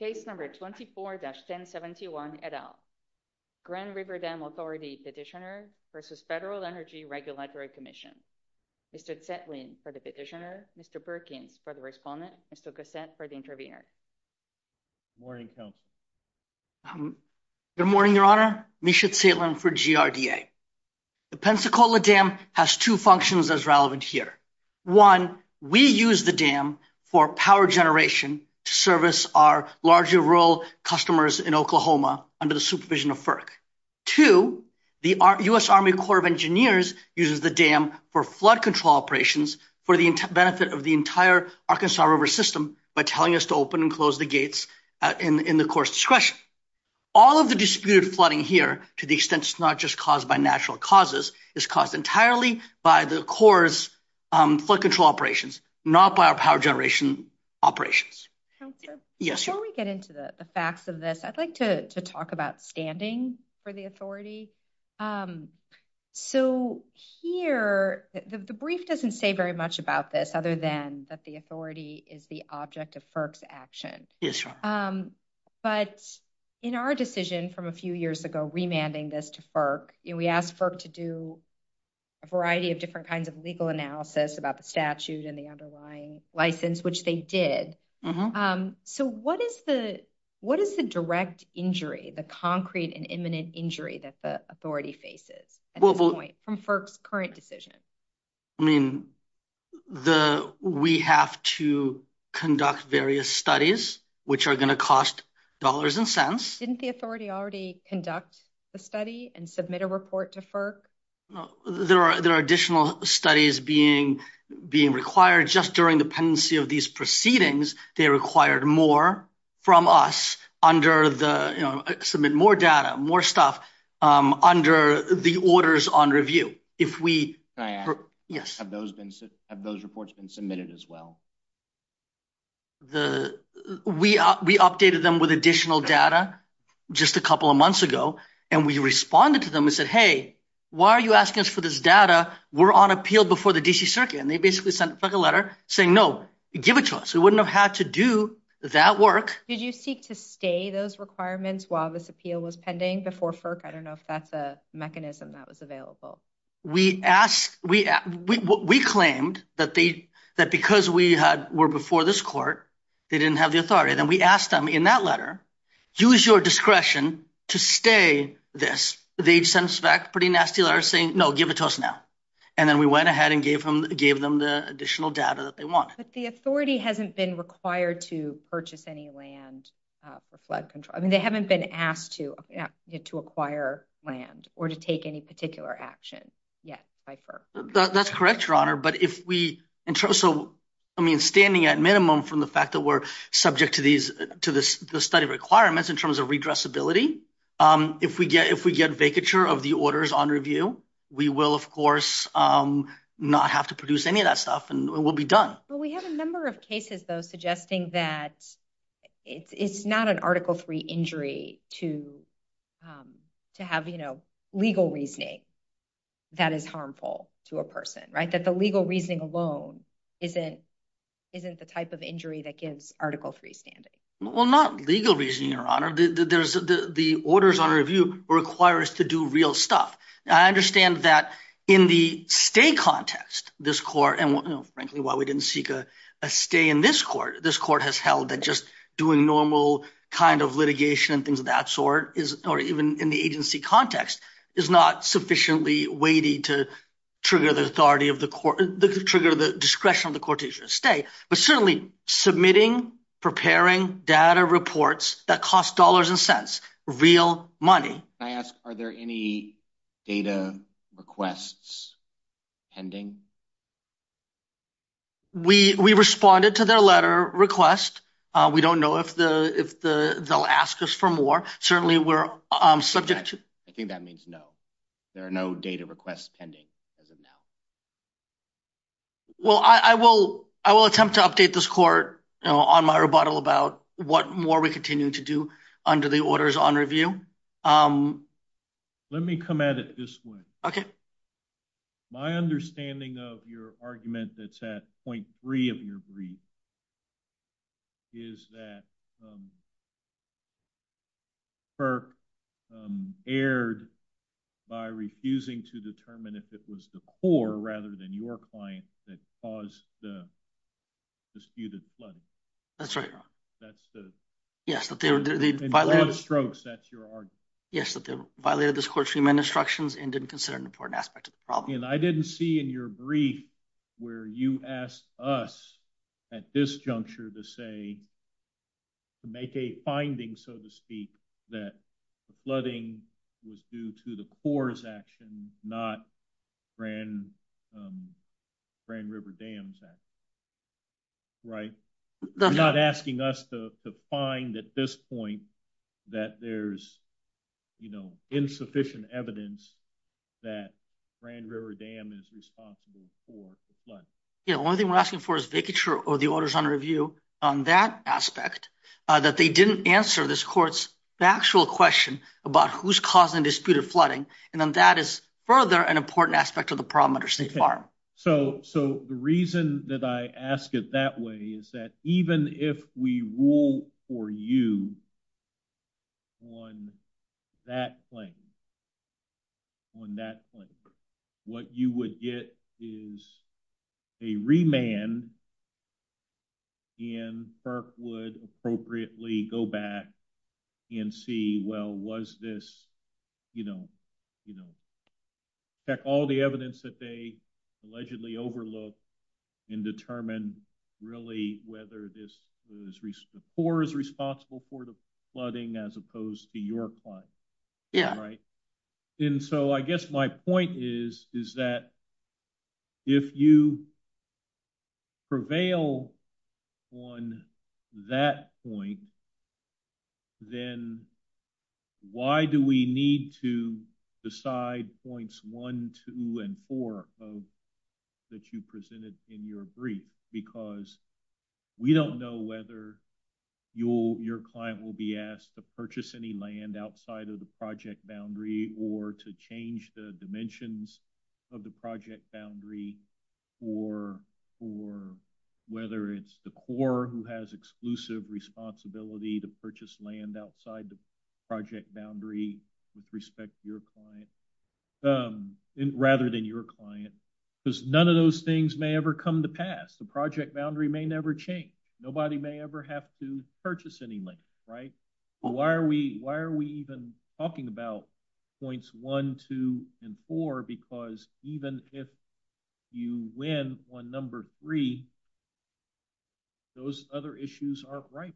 Case number 24-1071, et al. Grand River Dam Authority Petitioner v. Federal Energy Regulatory Commission. Mr. Zetlin for the petitioner, Mr. Perkins for the respondent, Mr. Cassette for the intervener. Good morning. Good morning, Your Honor. Misha Zetlin for GRDA. The Pensacola Dam has two functions as relevant here. One, we use the dam for power generation to service our larger rural customers in Oklahoma under the supervision of FERC. Two, the U.S. Army Corps of Engineers uses the dam for flood control operations for the benefit of the entire Arkansas River system by telling us to open and close the gates in the Corps' discretion. All of the disputed flooding here, to the extent it's not just caused by natural causes, is caused entirely by the Corps' flood control operations, not by our power generation operations. Counselor? Yes, Your Honor. Before we get into the facts of this, I'd like to talk about standing for the authority. So here, the brief doesn't say very much about this other than that the authority is the object of FERC's action. Yes, Your Honor. But in our decision from a few years ago, remanding this to FERC, we asked FERC to do a variety of different kinds of legal analysis about the statutes and the underlying license, which they did. So what is the direct injury, the concrete and imminent injury that the authority faces at this point from FERC's current decision? I mean, we have to conduct various studies, which are going to cost dollars and cents. Didn't the authority already conduct the study and submit a report to FERC? There are additional studies being required. Just during the pendency of these proceedings, they required more from us under the, you know, submit more data, more stuff under the orders on review. Have those reports been submitted as well? We updated them with additional data just a couple of months ago, and we responded to them and said, hey, why are you asking us for this data? We're on appeal before the D.C. Circuit, and they basically sent a letter saying, no, give it to us. We wouldn't have had to do that work. Did you seek to stay those requirements while this appeal was pending before FERC? I don't know if that's a mechanism that was available. We asked, we claimed that because we were before this court, they didn't have the authority. Then we asked them in that letter, use your discretion to stay this. They sent us back a pretty nasty letter saying, no, give it to us now. And then we went ahead and gave them the additional data that they want. But the authority hasn't been required to purchase any land for flood control. I mean, they haven't been asked to acquire land or to take any particular action yet by FERC. That's correct, Your Honor. But if we, I mean, standing at minimum from the fact that we're subject to the study requirements in terms of redressability, if we get vacature of the orders on review, we will, of course, not have to produce any of that stuff and we'll be done. Well, we have a number of cases, though, suggesting that it's not an Article III injury to have, you know, legal reasoning that is harmful to a person, right? That the legal reasoning alone isn't the type of injury that gives Article III standing. Well, not legal reasoning, Your Honor. The orders on review require us to do real stuff. I understand that in the state context, this court, and frankly, while we didn't seek a stay in this court, this court has held that just doing normal kind of litigation and things of that sort is, or even in the agency context, is not sufficiently weighty to trigger the authority of the court, trigger the discretion of the court to stay. But certainly submitting, preparing data reports that cost dollars and cents, real money. I ask, are there any data requests pending? We responded to that letter request. We don't know if they'll ask us for more. Certainly, we're subject to. I think that means no. There are no data requests pending. Well, I will attempt to update this court on my rebuttal about what more we continue to do under the orders on review. Let me come at it this way. My understanding of your argument that's at point three of your brief is that FERC erred by refusing to determine if it was the core rather than your client that caused the disputed flood. That's right, Your Honor. That's the... Yes, but the... In broad strokes, that's your argument. Yes, but they violated this court's human instructions and didn't consider an important aspect of the problem. And I didn't see in your brief where you asked us at this juncture to say, to make a finding, so to speak, that the flooding was due to the Corps' action, not Grand River Dams' action. Right? You're not asking us to find at this point that there's, you know, insufficient evidence that Grand River Dam is responsible for the flood. Yeah, the only thing we're asking for is making sure the orders on review on that aspect, that they didn't answer this court's actual question about who's causing the disputed flooding. And then that is further an important aspect of the problem under State Farm. So the reason that I ask it that way is that even if we rule for you on that claim, on that claim, what you would get is a remand and FERC would appropriately go back and see, well, was this, you know, you know, check all the evidence that they allegedly overlooked and determine really whether the Corps is responsible for the flooding as opposed to your client. Yeah. Right. And so I guess my point is, is that if you prevail on that point, then why do we need to decide points one, two, and four that you presented in your brief? Because we don't know whether your client will be asked to purchase any land outside of the project boundary or to change the dimensions of the project boundary or whether it's the Corps who has exclusive responsibility to purchase land outside the project boundary with respect to your client rather than your client. Because none of those things may ever come to pass. The project boundary may never change. Nobody may ever have to purchase any land, right? Why are we, why are we even talking about points one, two, and four? Because even if you win on number three, those other issues aren't right.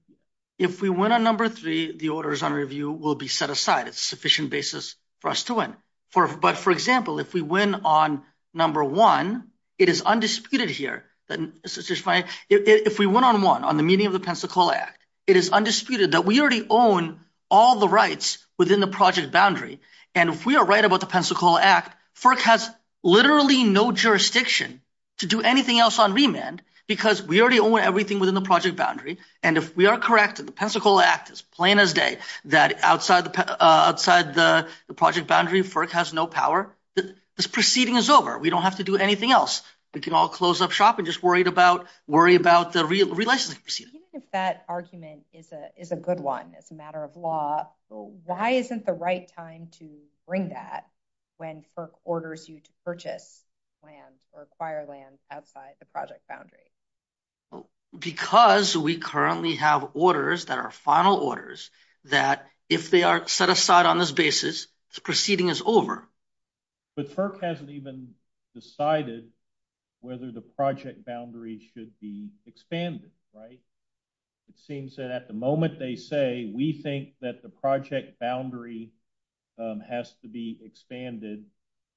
If we win on number three, the orders on review will be set aside. It's a sufficient basis for us to win. But for example, if we win on number one, it is undisputed here. If we win on one, on the meeting of the Pensacola Act, it is undisputed that we already own all the rights within the project boundary. And if we are right about the Pensacola Act, FERC has literally no jurisdiction to do anything else on remand because we already own everything within the project boundary. And if we are correct that the Pensacola Act is plain as day that outside the project boundary, FERC has no power, this proceeding is over. We don't have to do anything else. We can all close up shop and just worry about the relationship. I think that argument is a good one. It's a matter of law. Why isn't the right time to bring that when FERC orders you to purchase land or acquire land outside the project boundary? Because we currently have orders that are final orders that if they aren't set aside on this basis, the proceeding is over. But FERC hasn't even decided whether the project boundary should be expanded, right? It seems that at the moment they say, we think that the project boundary has to be expanded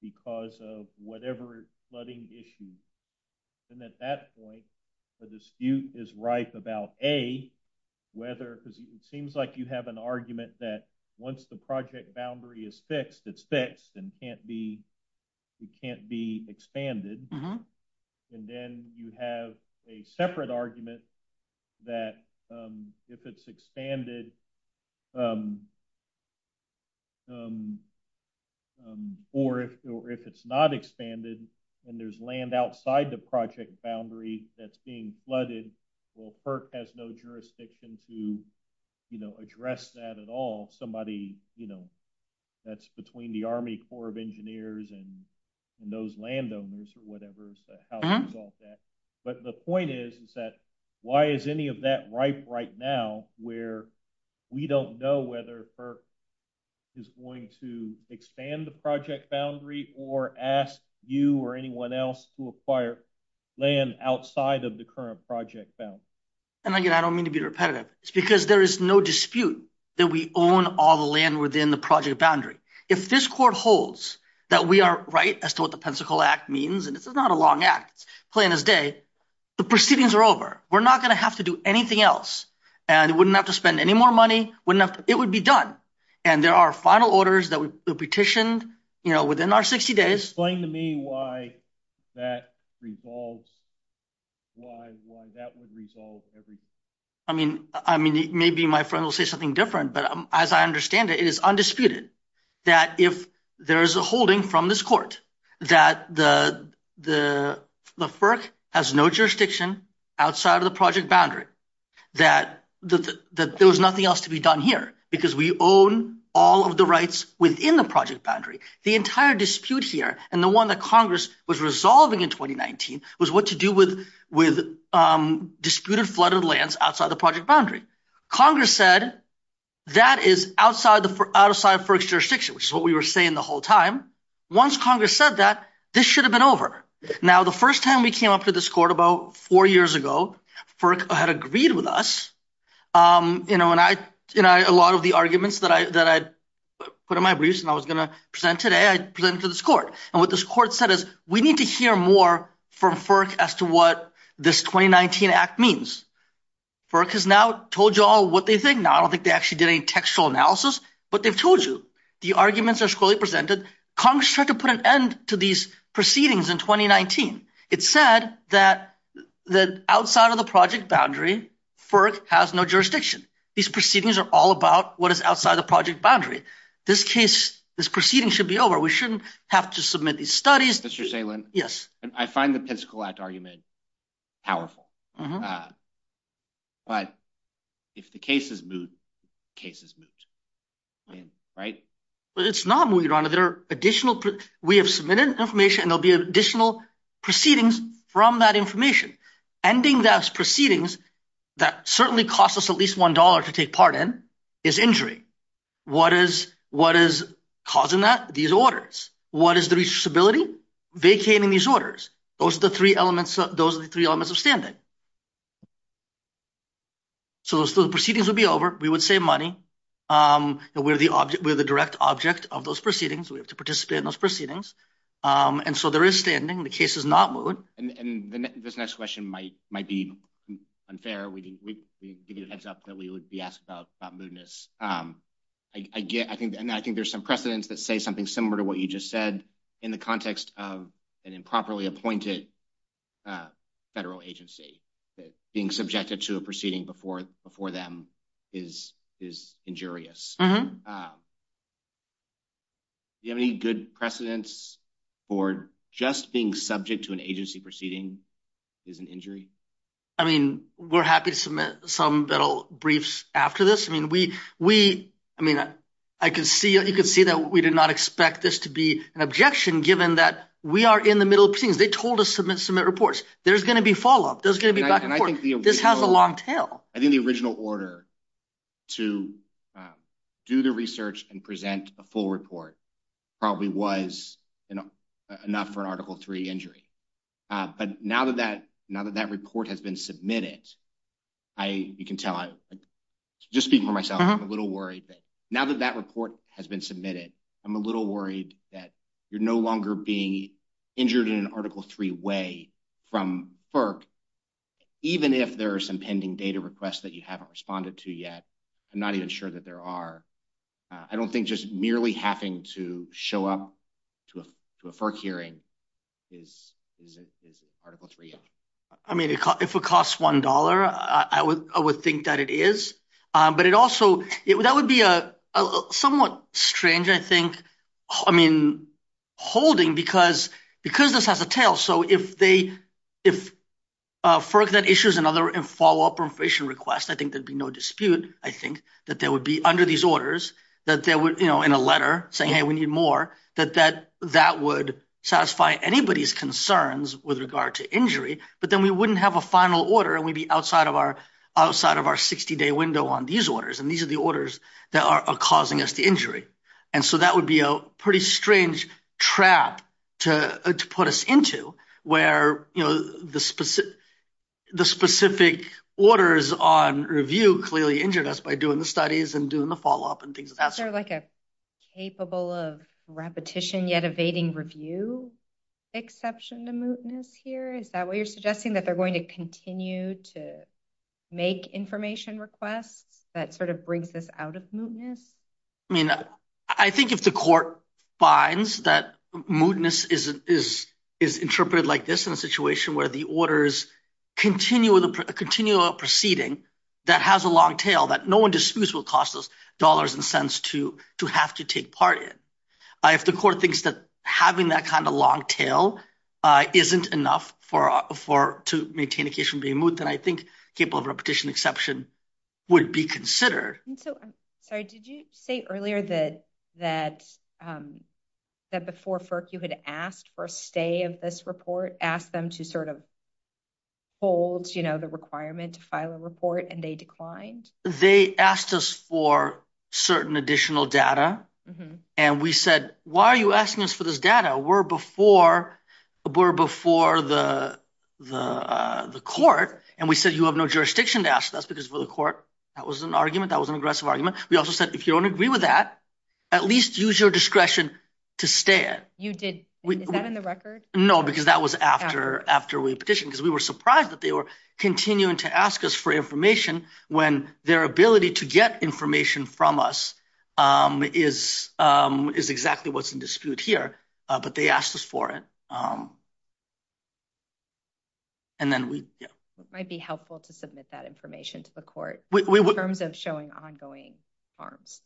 because of whatever flooding issue. And at that point, the dispute is right about A, whether it seems like you have an argument that once the project boundary is fixed, it's fixed and can't be expanded. And then you have a separate argument that if it's expanded, or if it's not expanded, and there's land outside the project boundary that's being flooded, or FERC has no jurisdiction to address that at all, that's between the Army Corps of Engineers and those landowners. But the point is that why is any of that right right now where we don't know whether FERC is going to expand the project boundary or ask you or anyone else to acquire land outside of the current project boundary? And again, I don't mean to be repetitive. It's because there is no dispute that we own all the land within the project boundary. If this court holds that we are right as to what the Pensacola Act means, and it's not a long act, plain as day, the proceedings are over. We're not going to have to do anything else. And we wouldn't have to spend any more money. It would be done. And there are final orders that were petitioned within our 60 days. Can you explain to me why that would resolve everything? I mean, maybe my friend will say something different, but as I understand it, it is undisputed that if there's a holding from this court that the FERC has no jurisdiction outside of the project boundary, that there was nothing else to be done here because we own all of the rights within the project boundary. The entire dispute here and the one that Congress was resolving in 2019 was what to do with disputed flooded lands outside the project boundary. Congress said that is outside FERC's jurisdiction, which is what we were saying the whole time. Once Congress said that, this should have been over. Now, the first time we came up to this court about four years ago, FERC had agreed with us. And a lot of the arguments that I put on my briefs and I was going to present today, I presented to this court. And what this court said is, we need to hear more from FERC as to what this 2019 Act means. FERC has now told you all what they think. Now, I don't think they actually did any textual analysis, but they've told you. The arguments are fully presented. Congress tried to put an end to these proceedings in 2019. It said that outside of the project boundary, FERC has no jurisdiction. These proceedings are all about what is outside the project boundary. This case, this proceeding should be over. We shouldn't have to submit these studies. Mr. Salem, I find the Pensacola Act argument powerful. But if the case is moved, the case is moved. Right? It's not moved, Your Honor. We have submitted information, and there will be additional proceedings from that information. Ending those proceedings that certainly cost us at least $1 to take part in is injury. What is causing that? These orders. What is the responsibility? Vacating these orders. Those are the three elements of standing. So the proceedings would be over. We would save money. We're the direct object of those proceedings. We have to participate in those proceedings. And so there is standing. The case is not moved. This next question might be unfair. We didn't give you a heads up that we would be asked about mootness. I think there's some precedents that say something similar to what you just said in the context of an improperly appointed federal agency. Being subjected to a proceeding before them is injurious. Do you have any good precedents for just being subject to an agency proceeding is an injury? I mean, we're happy to submit some little briefs after this. I mean, you can see that we did not expect this to be an objection, given that we are in the middle of proceedings. They told us to submit reports. There's going to be follow-up. There's going to be back and forth. This has a long tail. I think the original order to do the research and present a full report probably was enough for an Article III injury. But now that that report has been submitted, you can tell, just speaking for myself, I'm a little worried. Now that that report has been submitted, I'm a little worried that you're no longer being injured in an Article III way from FERC, even if there are some pending data requests that you haven't responded to yet. I'm not even sure that there are. I don't think just merely having to show up to a FERC hearing is Article III injury. If it costs $1, I would think that it is. But it also, that would be somewhat strange, I think, I mean, holding, because this has a tail. So if FERC then issues another follow-up information request, I think there'd be no dispute, I think, that there would be, under these orders, that there would, in a letter, saying, hey, we need more, that that would satisfy anybody's concerns with regard to injury. But then we wouldn't have a final order, and we'd be outside of our 60-day window on these orders, and these are the orders that are causing us the injury. And so that would be a pretty strange trap to put us into, where the specific orders on review clearly injured us by doing the studies and doing the follow-up and things of that sort. Is there like a capable of repetition yet evading review exception to mootness here? Is that what you're suggesting, that they're going to continue to make information requests that sort of brings us out of mootness? I mean, I think if the court finds that mootness is interpreted like this in a situation where the orders continue a proceeding that has a long tail, that no one disputes what cost those dollars and cents to have to take part in. If the court thinks that having that kind of long tail isn't enough to maintain a case from being moot, then I think capable of repetition exception would be considered. Sorry, did you say earlier that before FERC you had asked for a stay of this report, asked them to sort of hold the requirement to file a report, and they declined? They asked us for certain additional data, and we said, why are you asking us for this data? We're before the court, and we said, you have no jurisdiction to ask us, because for the court, that was an argument, that was an aggressive argument. We also said, if you don't agree with that, at least use your discretion to stay it. You did. Is that in the record? No, because that was after we petitioned, because we were surprised that they were continuing to ask us for information when their ability to get information from us is exactly what's in dispute here, but they asked us for it. It might be helpful to submit that information to the court in terms of showing ongoing forms.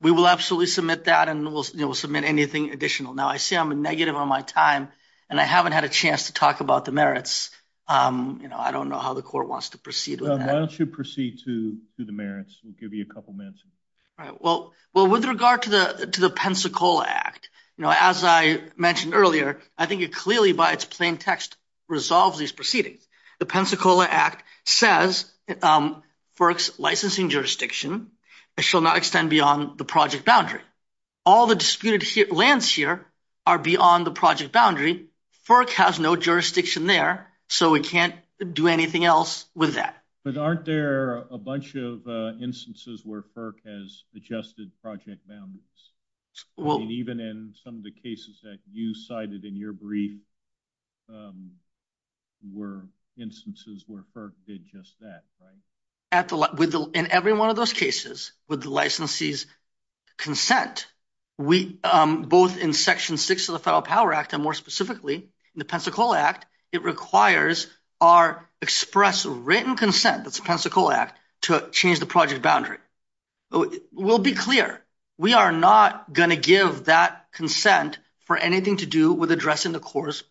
We will absolutely submit that, and we'll submit anything additional. Now, I see I'm negative on my time, and I haven't had a chance to talk about the merits. I don't know how the court wants to proceed with that. Why don't you proceed to the merits? We'll give you a couple minutes. With regard to the Pensacola Act, as I mentioned earlier, I think it clearly, by its plain text, resolves these proceedings. The Pensacola Act says FERC's licensing jurisdiction shall not extend beyond the project boundary. All the disputed lands here are beyond the project boundary. FERC has no jurisdiction there, so we can't do anything else with that. But aren't there a bunch of instances where FERC has adjusted project boundaries? Even in some of the cases that you cited in your brief were instances where FERC did just that, right? In every one of those cases, with the licensee's consent, both in Section 6 of the Federal Power Act, and more specifically in the Pensacola Act, it requires our express written consent of the Pensacola Act to change the project boundary. We'll be clear. We are not going to give that consent for anything to do with addressing the Corps'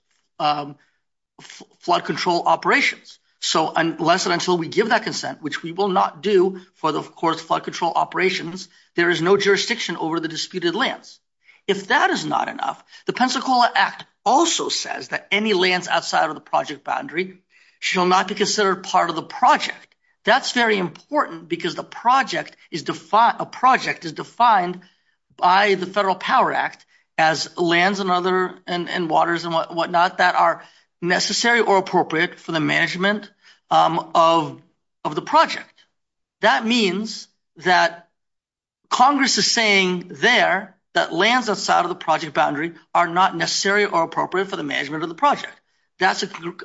flood control operations. Unless and until we give that consent, which we will not do for the Corps' flood control operations, there is no jurisdiction over the disputed lands. If that is not enough, the Pensacola Act also says that any lands outside of the project boundary shall not be considered part of the project. That's very important because a project is defined by the Federal Power Act as lands and waters and whatnot that are necessary or appropriate for the management of the project. That means that Congress is saying there that lands outside of the project boundary are not necessary or appropriate for the management of the project. That's an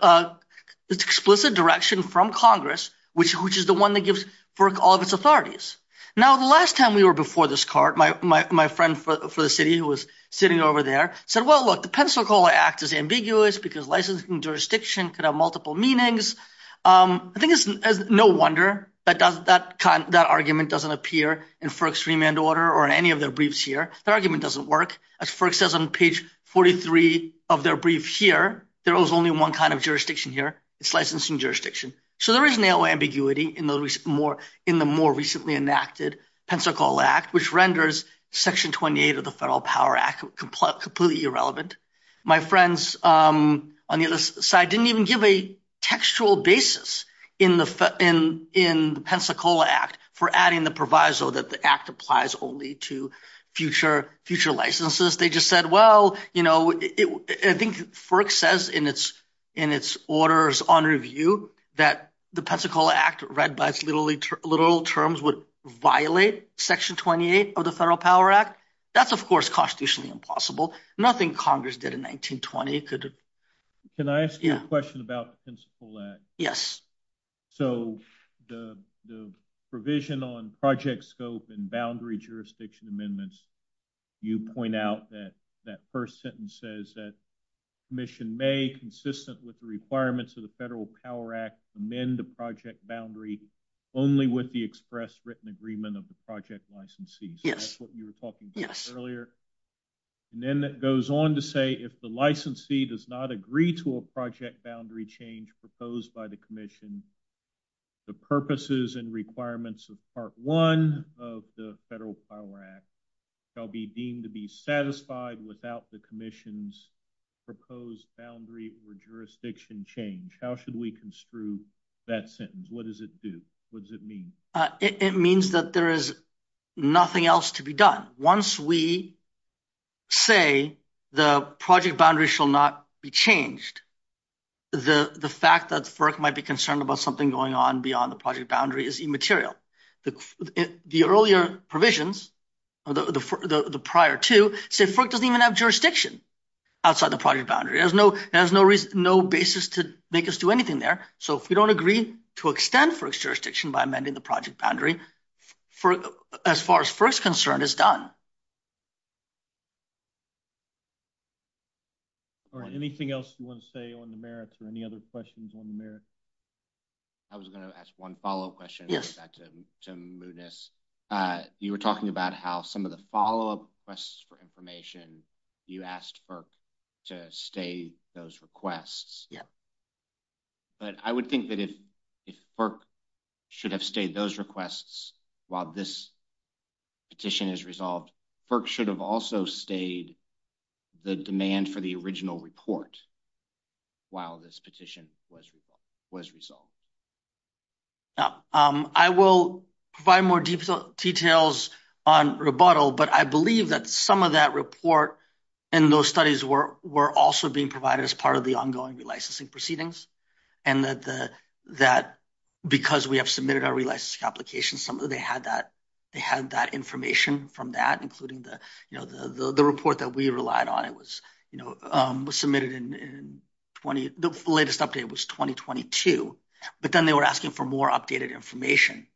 explicit direction from Congress, which is the one that gives FERC all of its authorities. Now, the last time we were before this court, my friend for the city who was sitting over there said, well, look, the Pensacola Act is ambiguous because licensing jurisdiction could have multiple meanings. I think it's no wonder that that argument doesn't appear in FERC's agreement order or in any of their briefs here. Their argument doesn't work. As FERC says on page 43 of their brief here, there is only one kind of jurisdiction here. It's licensing jurisdiction. So there is no ambiguity in the more recently enacted Pensacola Act, which renders Section 28 of the Federal Power Act completely irrelevant. My friends on the other side didn't even give a textual basis in the Pensacola Act for adding the proviso that the act applies only to future licenses. They just said, well, you know, I think FERC says in its orders on review that the Pensacola Act read by its literal terms would violate Section 28 of the Federal Power Act. That's, of course, constitutionally impossible. Nothing Congress did in 1920 could – Can I ask you a question about the Pensacola Act? Yes. So the provision on project scope and boundary jurisdiction amendments, you point out that that first sentence says that commission may, consistent with the requirements of the Federal Power Act, amend the project boundary only with the express written agreement of the project licensees. Yes. That's what you were talking about earlier. Yes. And then it goes on to say if the licensee does not agree to a project boundary change proposed by the commission, the purposes and requirements of Part 1 of the Federal Power Act shall be deemed to be satisfied without the commission's proposed boundary or jurisdiction change. How should we construe that sentence? What does it do? What does it mean? It means that there is nothing else to be done. Once we say the project boundary shall not be changed, the fact that FERC might be concerned about something going on beyond the project boundary is immaterial. The earlier provisions, the prior two, say FERC doesn't even have jurisdiction outside the project boundary. There's no basis to make us do anything there. So if we don't agree to extend FERC's jurisdiction by amending the project boundary, as far as FERC's concerned, it's done. All right. Anything else you want to say on the merits or any other questions on the merits? I was going to ask one follow-up question to Muniz. You were talking about how some of the follow-up requests for information, you asked FERC to state those requests. Yeah. But I would think that if FERC should have stayed those requests while this petition is resolved, FERC should have also stayed the demand for the original report while this petition was resolved. I will provide more details on rebuttal, but I believe that some of that report and those studies were also being provided as part of the ongoing relicensing proceedings. Because we have submitted our relicensing applications, they had that information from that, including the report that we relied on. The latest update was 2022, but then they were asking for more updated information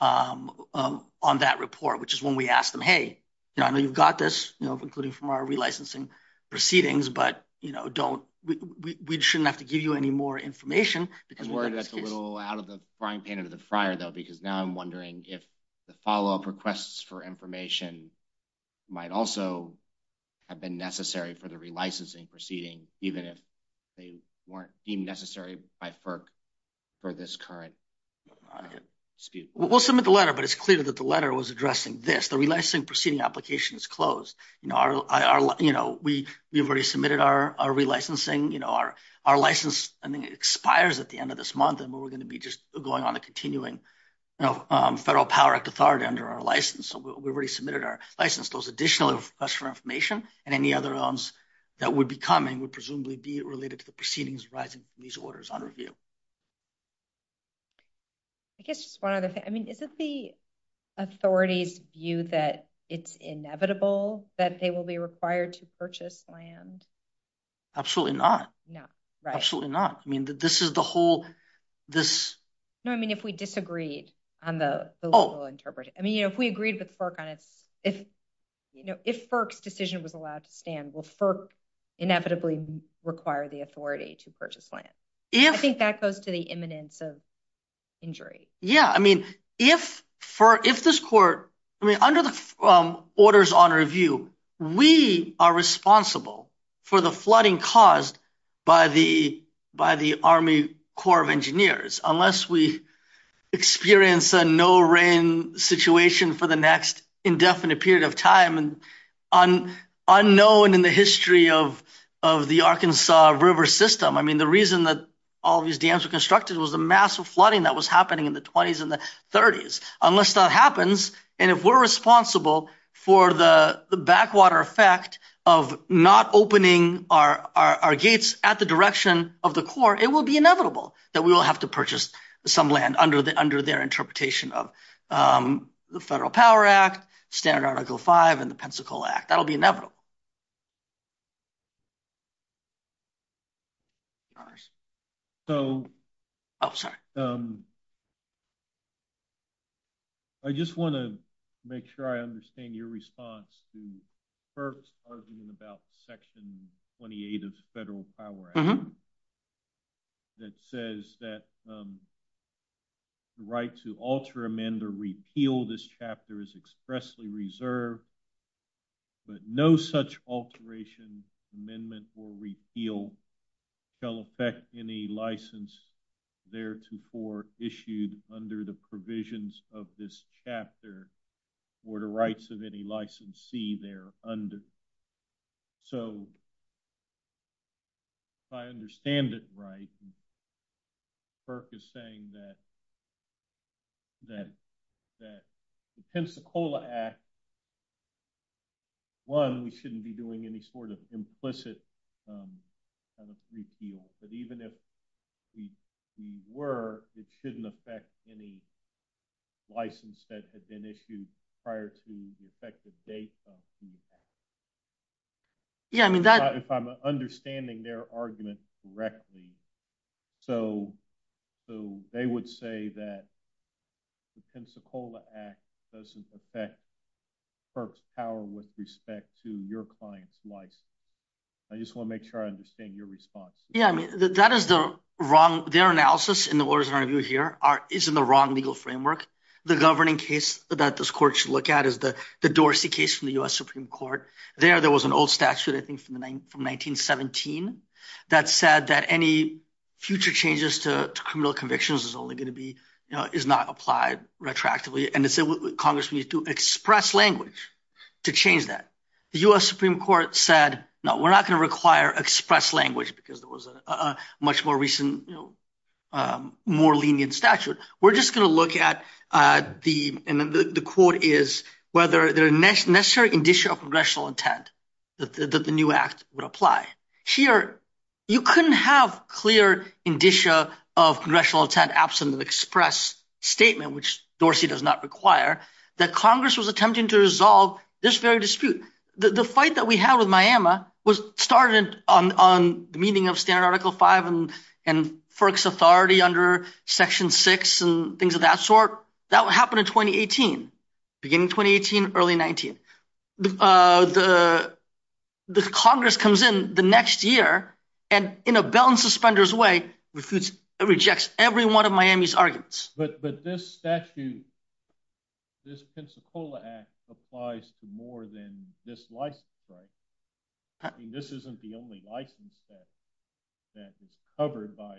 on that report, which is when we asked them, hey, I know you've got this, including from our relicensing proceedings, but we shouldn't have to give you any more information. I'm worried that's a little out of the frying pan of the fryer, though, because now I'm wondering if the follow-up requests for information might also have been necessary for the relicensing proceeding, even if they weren't deemed necessary by FERC for this current dispute. We'll submit the letter, but it's clear that the letter was addressing this. The relicensing proceeding application is closed. We've already submitted our relicensing. Our license expires at the end of this month, and we're going to be just going on a continuing Federal Power Act authority under our license. So we've already submitted our license. Those additional requests for information and any other ones that would be coming would presumably be related to the proceedings arising from these orders under review. I guess just one other thing. I mean, is this the authority's view that it's inevitable that they will be required to purchase land? Absolutely not. No, right. Absolutely not. I mean, this is the whole – this – No, I mean if we disagreed on the legal interpretation. I mean, if we agreed with FERC on it, if, you know, if FERC's decision was allowed to stand, will FERC inevitably require the authority to purchase land? I think that goes to the imminence of injury. Yeah, I mean, if this court – I mean, under the orders under review, we are responsible for the flooding caused by the Army Corps of Engineers, unless we experience a no-rain situation for the next indefinite period of time and unknown in the history of the Arkansas River system. I mean, the reason that all these dams were constructed was the massive flooding that was happening in the 20s and the 30s. Unless that happens, and if we're responsible for the backwater effect of not opening our gates at the direction of the Corps, it will be inevitable that we will have to purchase some land under their interpretation of the Federal Power Act, Standard Article V, and the Pensacola Act. That will be inevitable. So – I just want to make sure I understand your response to FERC's argument about Section 28 of the Federal Power Act that says that the right to alter, amend, or repeal this chapter is expressly reserved, but no such alteration, amendment, or repeal shall affect any license theretofore issued under the provisions of this chapter or the rights of any licensee thereunder. So if I understand it right, FERC is saying that the Pensacola Act, one, we shouldn't be doing any sort of implicit repeal, but even if we were, it shouldn't affect any license that had been issued prior to the effective date of the act. If I'm understanding their argument correctly, so they would say that the Pensacola Act doesn't affect FERC's power with respect to your client's license. I just want to make sure I understand your response. Yeah, I mean, that is the wrong – their analysis in the orders that I review here is in the wrong legal framework. The governing case that this court should look at is the Dorsey case from the U.S. Supreme Court. There, there was an old statute, I think from 1917, that said that any future changes to criminal convictions is only going to be – is not applied retroactively, and the Congress would need to express language to change that. The U.S. Supreme Court said, no, we're not going to require express language because it was a much more recent, more lenient statute. We're just going to look at the – and the quote is, whether there is a necessary indicia of congressional intent that the new act would apply. Here, you couldn't have clear indicia of congressional intent absent an express statement, which Dorsey does not require, that Congress was attempting to resolve this very dispute. The fight that we had with Miami was started on the meaning of standard Article V and FERC's authority under Section 6 and things of that sort. That would happen in 2018, beginning of 2018, early 19. The Congress comes in the next year and, in a bell and suspenders way, rejects every one of Miami's arguments. But this statute, this Pensacola Act applies to more than this license, right? This isn't the only license that is covered by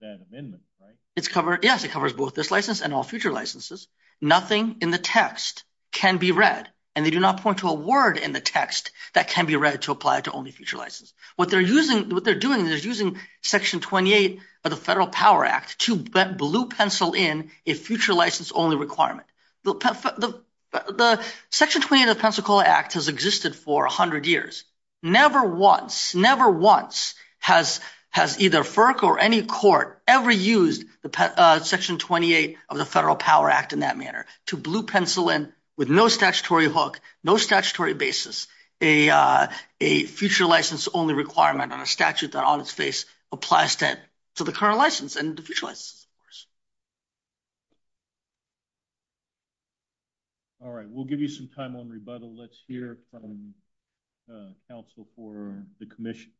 that amendment, right? Yes, it covers both this license and all future licenses. Nothing in the text can be read, and they do not point to a word in the text that can be read to apply to only future licenses. What they're doing is using Section 28 of the Federal Power Act to blue pencil in a future license-only requirement. Section 28 of the Pensacola Act has existed for 100 years. Never once, never once has either FERC or any court ever used Section 28 of the Federal Power Act in that manner, to blue pencil in, with no statutory hook, no statutory basis, a future license-only requirement on a statute that on its face applies to the current license and the future license, of course. All right, we'll give you some time on rebuttal. Let's hear from counsel for the commission.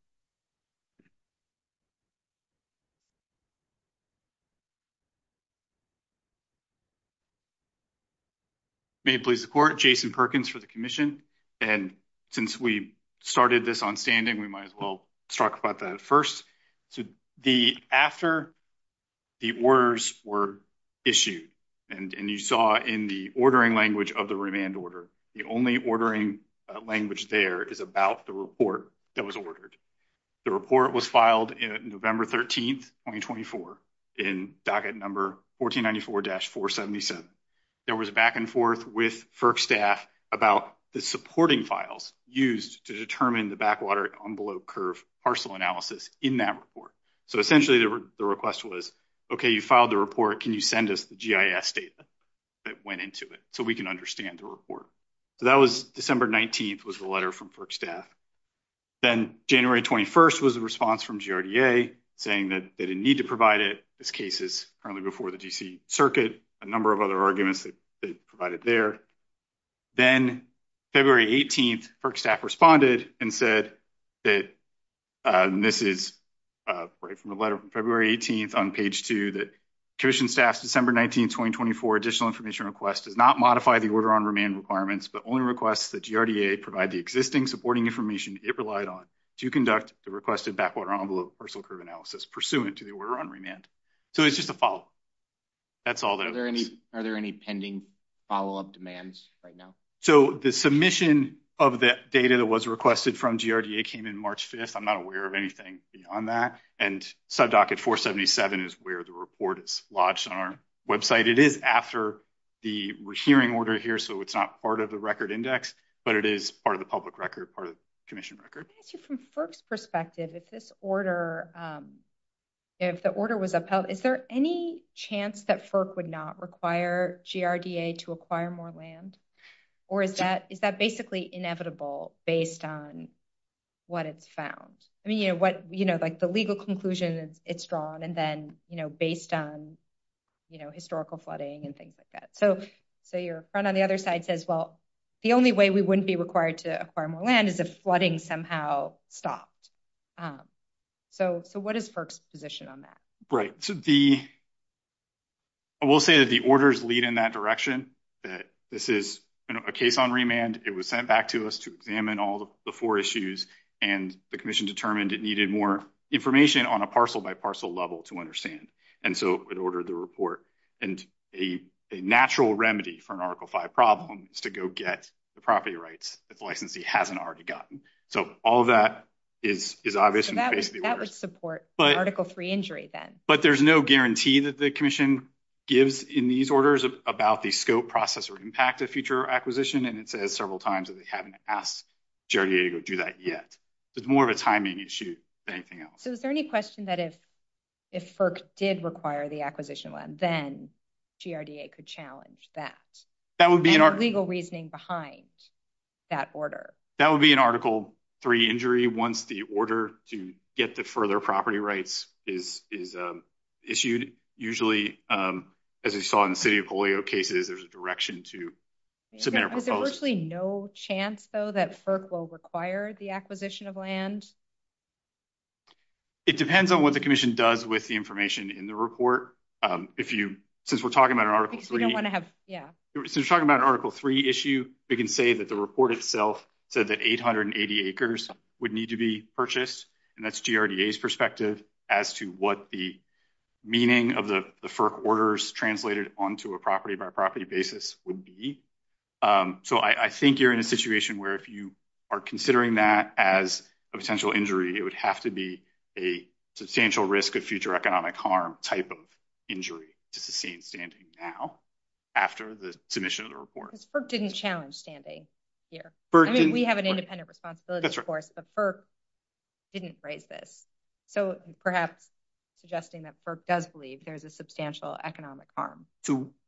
May it please the court, Jason Perkins for the commission. Since we started this on standing, we might as well talk about that first. After the orders were issued, and you saw in the ordering language of the remand order, the only ordering language there is about the report that was ordered. The report was filed November 13, 2024, in docket number 1494-477. There was a back and forth with FERC staff about the supporting files used to determine the backwater envelope curve parcel analysis in that report. So essentially, the request was, okay, you filed the report, can you send us the GIS data that went into it so we can understand the report? So that was December 19th was the letter from FERC staff. Then January 21st was a response from GRDA saying that they didn't need to provide it. This case is currently before the D.C. Circuit, a number of other arguments provided there. Then February 18th, FERC staff responded and said that, and this is right from the letter from February 18th on page 2, that commission staff's December 19th, 2024, additional information request did not modify the order on remand requirements, but only requests that GRDA provide the existing supporting information it relied on to conduct the requested backwater envelope parcel curve analysis pursuant to the order on remand. So it's just a follow-up. That's all there is. Are there any pending follow-up demands right now? So the submission of the data that was requested from GRDA came in March 5th. I'm not aware of anything on that. And sub docket 477 is where the report is lodged on our website. It is after the hearing order here, so it's not part of the record index, but it is part of the public record, part of the commission record. From FERC's perspective, if this order, if the order was upheld, is there any chance that FERC would not require GRDA to acquire more land? Or is that basically inevitable based on what it's found? I mean, you know, what, you know, like the legal conclusion it's drawn and then, you know, based on, you know, historical flooding and things like that. So your friend on the other side says, well, the only way we wouldn't be required to acquire more land is if flooding somehow stopped. So what is FERC's position on that? Right. So the, I will say that the orders lead in that direction, that this is a case on remand. It was sent back to us to examine all the four issues, and the commission determined it needed more information on a parcel by parcel level to understand. And so it ordered the report, and a natural remedy for an Article V problem is to go get the property rights that the licensee hasn't already gotten. So all that is obvious in the case of the order. That would support Article III injury then. But there's no guarantee that the commission gives in these orders about the scope, process, or impact of future acquisition, and it says several times that they haven't asked GRDA to go do that yet. It's more of a timing issue than anything else. So is there any question that if FERC did require the acquisition of land, then GRDA could challenge that? That would be an article. And the legal reasoning behind that order. That would be an Article III injury once the order to get the further property rights is issued. Usually, as we saw in the City of Hawaii cases, there's a direction to submit a proposal. There's virtually no chance, though, that FERC will require the acquisition of land? It depends on what the commission does with the information in the report. Since we're talking about an Article III issue, we can say that the report itself said that 880 acres would need to be purchased. And that's GRDA's perspective as to what the meaning of the FERC orders translated onto a property-by-property basis would be. So I think you're in a situation where if you are considering that as a potential injury, it would have to be a substantial risk of future economic harm type of injury to sustain standing now after the submission of the report. Because FERC didn't challenge standing here. I mean, we have an independent responsibility, of course, but FERC didn't phrase this. So perhaps suggesting that FERC does believe there's a substantial economic harm.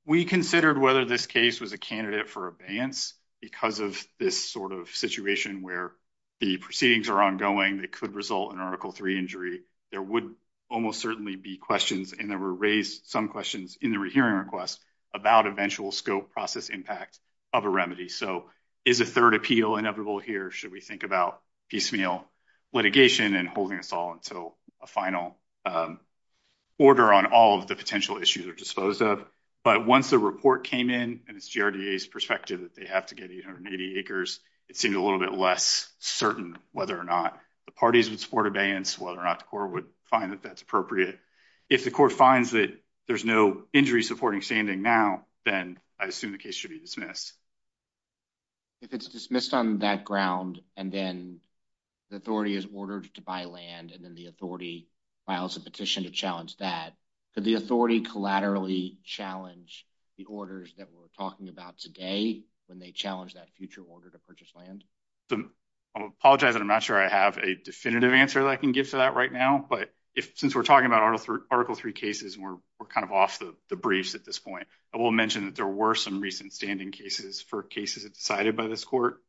We considered whether this case was a candidate for abeyance because of this sort of situation where the proceedings are ongoing that could result in an Article III injury. There would almost certainly be questions, and there were raised some questions in the rehearing request about eventual scope, process, impact of a remedy. So is a third appeal inevitable here? Or should we think about piecemeal litigation and holding us all until a final order on all of the potential issues are disposed of? But once the report came in, and it's GRDA's perspective that they have to get 880 acres, it seemed a little bit less certain whether or not the parties would support abeyance, whether or not the court would find that that's appropriate. If the court finds that there's no injury supporting standing now, then I assume the case should be dismissed. If it's dismissed on that ground, and then the authority is ordered to buy land, and then the authority files a petition to challenge that, could the authority collaterally challenge the orders that we're talking about today when they challenge that future order to purchase land? I apologize that I'm not sure I have a definitive answer that I can get to that right now, but since we're talking about Article III cases, and we're kind of off the briefs at this point, I will mention that there were some recent standing cases for cases decided by this court.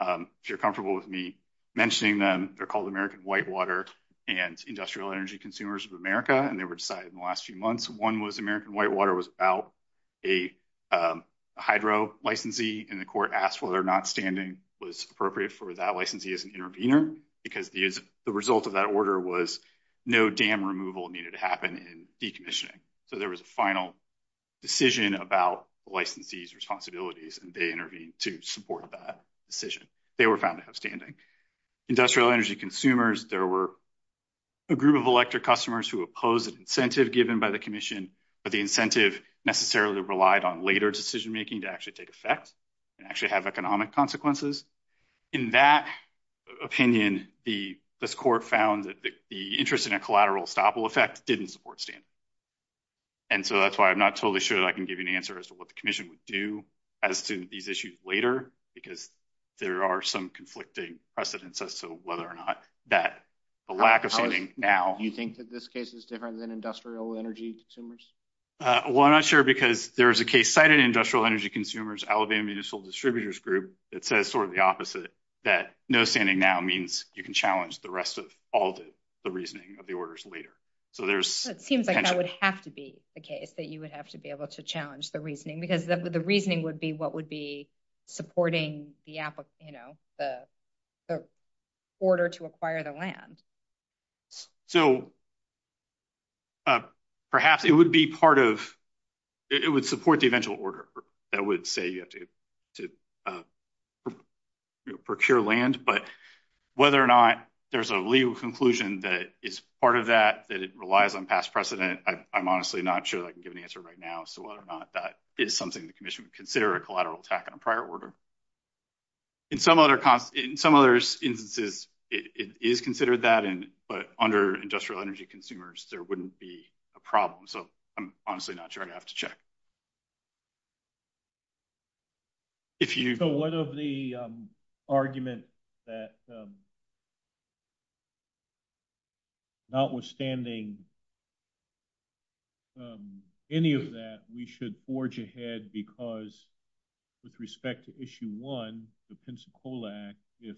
If you're comfortable with me mentioning them, they're called American Whitewater and Industrial Energy Consumers of America, and they were decided in the last few months. One was American Whitewater was about a hydro licensee, and the court asked whether or not standing was appropriate for that licensee as an intervener, because the result of that order was no dam removal needed to happen in decommissioning. So there was a final decision about the licensee's responsibilities, and they intervened to support that decision. They were found to have standing. Industrial Energy Consumers, there were a group of electric customers who opposed the incentive given by the commission, but the incentive necessarily relied on later decision making to actually take effect and actually have economic consequences. In that opinion, this court found that the interest in a collateral estoppel effect didn't support standing. And so that's why I'm not totally sure that I can give you an answer as to what the commission would do as to these issues later, because there are some conflicting precedents as to whether or not that lack of funding now. Do you think that this case is different than Industrial Energy Consumers? Well, I'm not sure because there is a case cited in Industrial Energy Consumers, Alabama Municipal Distributors Group, that says sort of the opposite, that no standing now means you can challenge the rest of all the reasoning of the orders later. So there seems like that would have to be the case, that you would have to be able to challenge the reasoning, because the reasoning would be what would be supporting the order to acquire the land. So perhaps it would support the eventual order that would say you have to procure land, but whether or not there's a legal conclusion that it's part of that, that it relies on past precedent, I'm honestly not sure I can give an answer right now as to whether or not that is something the commission would consider a collateral attack on a prior order. In some other instances, it is considered that, but under Industrial Energy Consumers, there wouldn't be a problem. So I'm honestly not sure I'd have to check. So one of the arguments that notwithstanding any of that, we should forge ahead because with respect to issue one, the Pensacola Act, if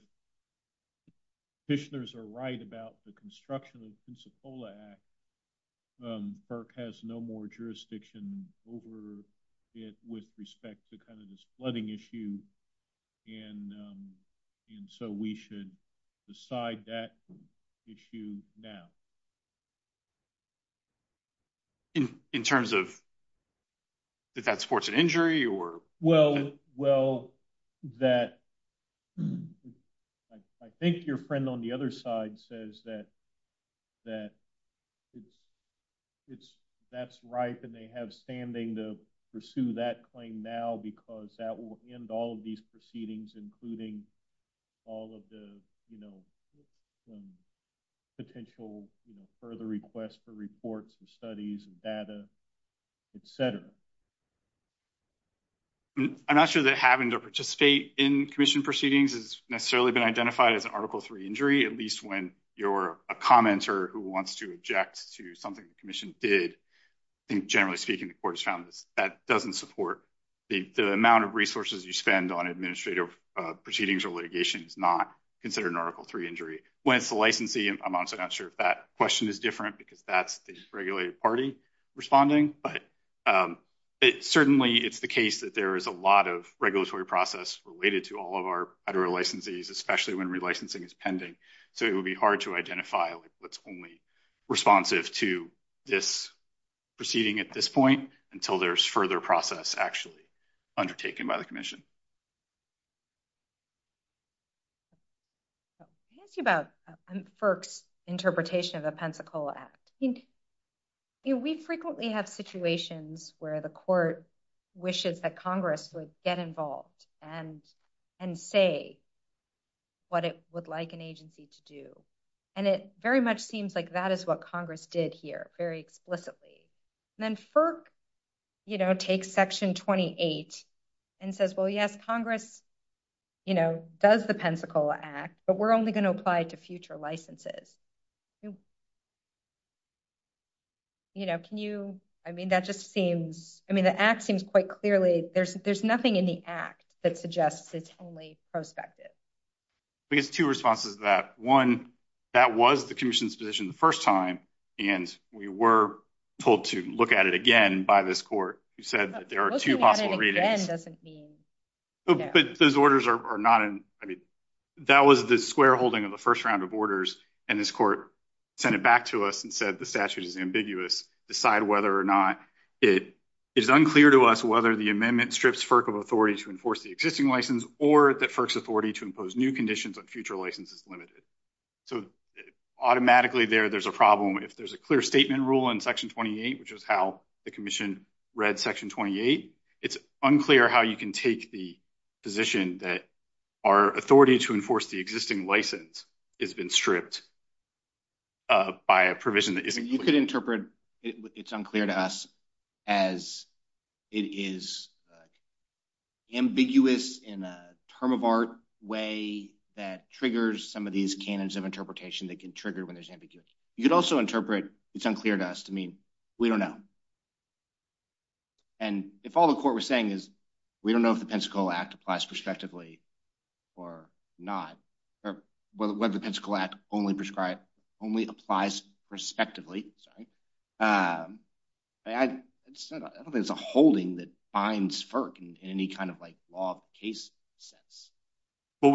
petitioners are right about the construction of the Pensacola Act, FERC has no more jurisdiction over it with respect to this flooding issue, and so we should decide that issue now. In terms of if that supports an injury or... Well, that... I think your friend on the other side says that that's right, and they have standing to pursue that claim now because that will end all of these proceedings, including all of the potential further requests for reports and studies and data, etc. I'm not sure that having to participate in commission proceedings has necessarily been identified as an Article III injury, at least when you're a commenter who wants to object to something the commission did. I think, generally speaking, the court has found that that doesn't support... The amount of resources you spend on administrative proceedings or litigation is not considered an Article III injury. When it's the licensee, I'm honestly not sure if that question is different because that's a regulated party responding, but certainly it's the case that there is a lot of regulatory process related to all of our federal licensees, especially when relicensing is pending, so it would be hard to identify what's only responsive to this proceeding at this point until there's further process actually undertaken by the commission. I'll ask you about FERC's interpretation of the Pensacola Act. We frequently have situations where the court wishes that Congress would get involved and say what it would like an agency to do, and it very much seems like that is what Congress did here very explicitly. Then FERC takes Section 28 and says, well, yes, Congress does the Pensacola Act, but we're only going to apply it to future licenses. Can you... I mean, that just seems... I mean, the Act seems quite clearly... There's nothing in the Act that suggests it's only prospective. I think it's two responses to that. One, that was the commission's position the first time, and we were told to look at it again by this court who said that there are two possible readings. Looking at it again doesn't mean... Those orders are not... I mean, that was the square holding of the first round of orders, and this court sent it back to us and said the statute is ambiguous. Decide whether or not it is unclear to us whether the amendment strips FERC of authority to enforce the existing license or that FERC's authority to impose new conditions on future licenses is limited. So automatically there, there's a problem. If there's a clear statement rule in Section 28, which is how the commission read Section 28, it's unclear how you can take the position that our authority to enforce the existing license has been stripped by a provision that isn't... You could interpret it's unclear to us as it is ambiguous in a term-of-art way that triggers some of these canons of interpretation that can trigger when there's ambiguity. You could also interpret it's unclear to us to mean we don't know. And if all the court was saying is we don't know if the Pensacola Act applies prospectively or not, or whether the Pensacola Act only applies prospectively, I don't think there's a holding that binds FERC in any kind of law of case sense. Well,